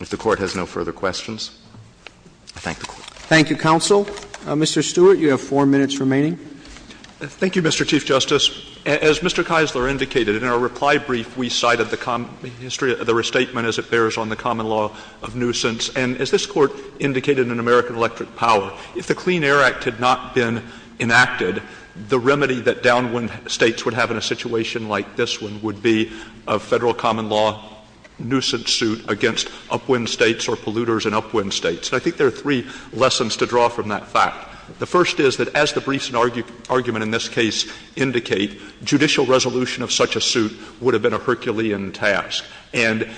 If the Court has no further questions, I thank the Court. Thank you, counsel. Mr. Stewart, you have four minutes remaining. Thank you, Mr. Chief Justice. As Mr. Keisler indicated, in our reply brief, we cited the restatement as it bears on the common law of nuisance. And as this Court indicated in American Electric Power, if the Clean Air Act had not been enacted, the remedy that downwind states would have in a situation like this one would be a federal common law nuisance suit against upwind states or polluters in upwind states. And I think there are three lessons to draw from that fact. The first is that as the briefs and argument in this case indicate, judicial resolution of such a suit would have been a Herculean task. And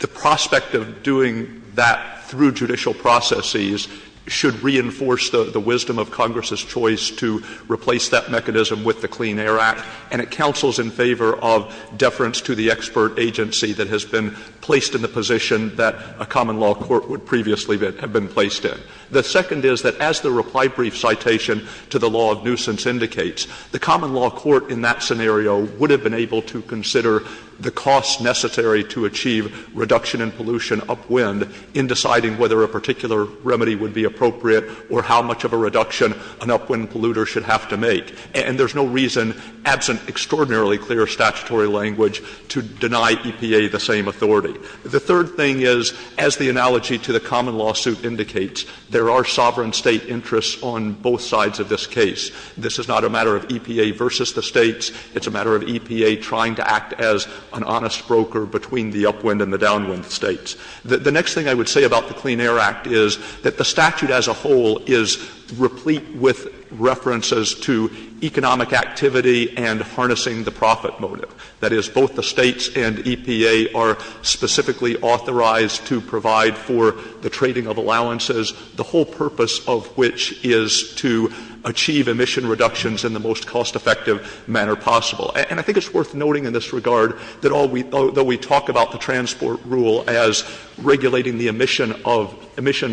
the prospect of doing that through judicial processes should reinforce the wisdom of Congress's choice to replace that mechanism with the Clean Air Act. And it counsels in favor of deference to the expert agency that has been placed in the position that a common law court would previously have been placed in. The second is that as the reply brief citation to the law of nuisance indicates, the common law court in that scenario would have been able to consider the cost necessary to achieve reduction in pollution upwind in deciding whether a particular remedy would be appropriate or how much of a reduction an upwind polluter should have to make. And there's no reason, absent extraordinarily clear statutory language, to deny EPA the same authority. The third thing is, as the analogy to the common lawsuit indicates, there are sovereign state interests on both sides of this case. This is not a matter of EPA versus the states. It's a matter of EPA trying to act as an honest broker between the upwind and the downwind states. The next thing I would say about the Clean Air Act is that the statute as a whole is replete with references to economic activity and harnessing the profit motive. That is, both the states and EPA are specifically authorized to provide for the trading of allowances, the whole purpose of which is to achieve emission reductions in the most cost-effective manner possible. And I think it's worth noting in this regard that although we talk about the transport rule as regulating the emissions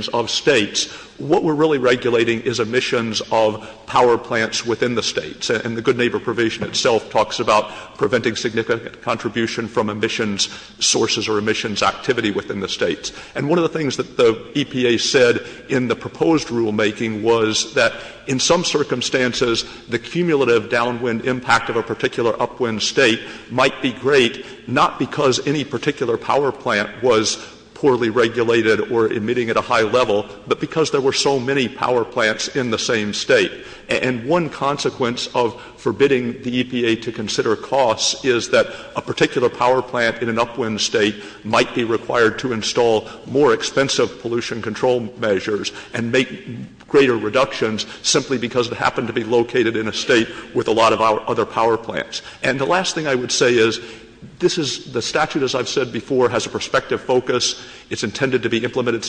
of states, what we're really regulating is emissions of power plants within the states. And the good neighbor provision itself talks about preventing significant contribution from emissions sources or emissions activity within the states. And one of the things that the EPA said in the proposed rulemaking was that in some circumstances, the cumulative downwind impact of a particular upwind state might be great, not because any particular power plant was poorly regulated or emitting at a high level, but because there were so many power plants in the same state. And one consequence of forbidding the EPA to consider costs is that a particular power plant in an upwind state might be required to install more expensive pollution control measures and make greater reductions simply because it happened to be located in a state with a lot of other power plants. And the last thing I would say is the statute, as I've said before, has a prospective focus. It's intended to be implemented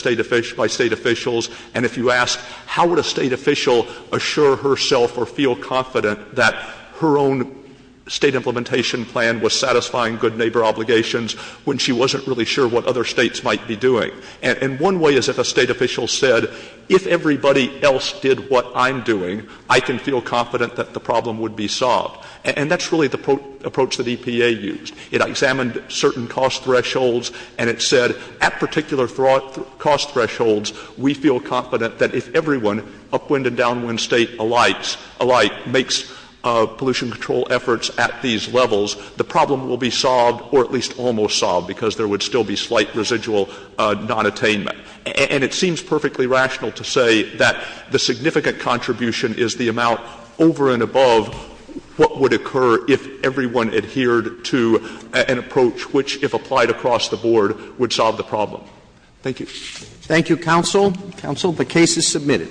by state officials. And if you ask how would a state official assure herself or feel confident that her own state implementation plan was satisfying good neighbor obligations when she wasn't really sure what other states might be doing. And one way is if a state official said, if everybody else did what I'm doing, I can feel confident that the problem would be solved. And that's really the approach that EPA used. It examined certain cost thresholds, and it said at particular cost thresholds, we feel confident that if everyone, upwind and downwind state alike, makes pollution control efforts at these levels, the problem will be solved or at least almost solved because there would still be slight residual nonattainment. And it seems perfectly rational to say that the significant contribution is the amount over and above what would occur if everyone adhered to an approach which, if applied across the board, would solve the problem. Thank you. Thank you, counsel. Counsel, the case is submitted.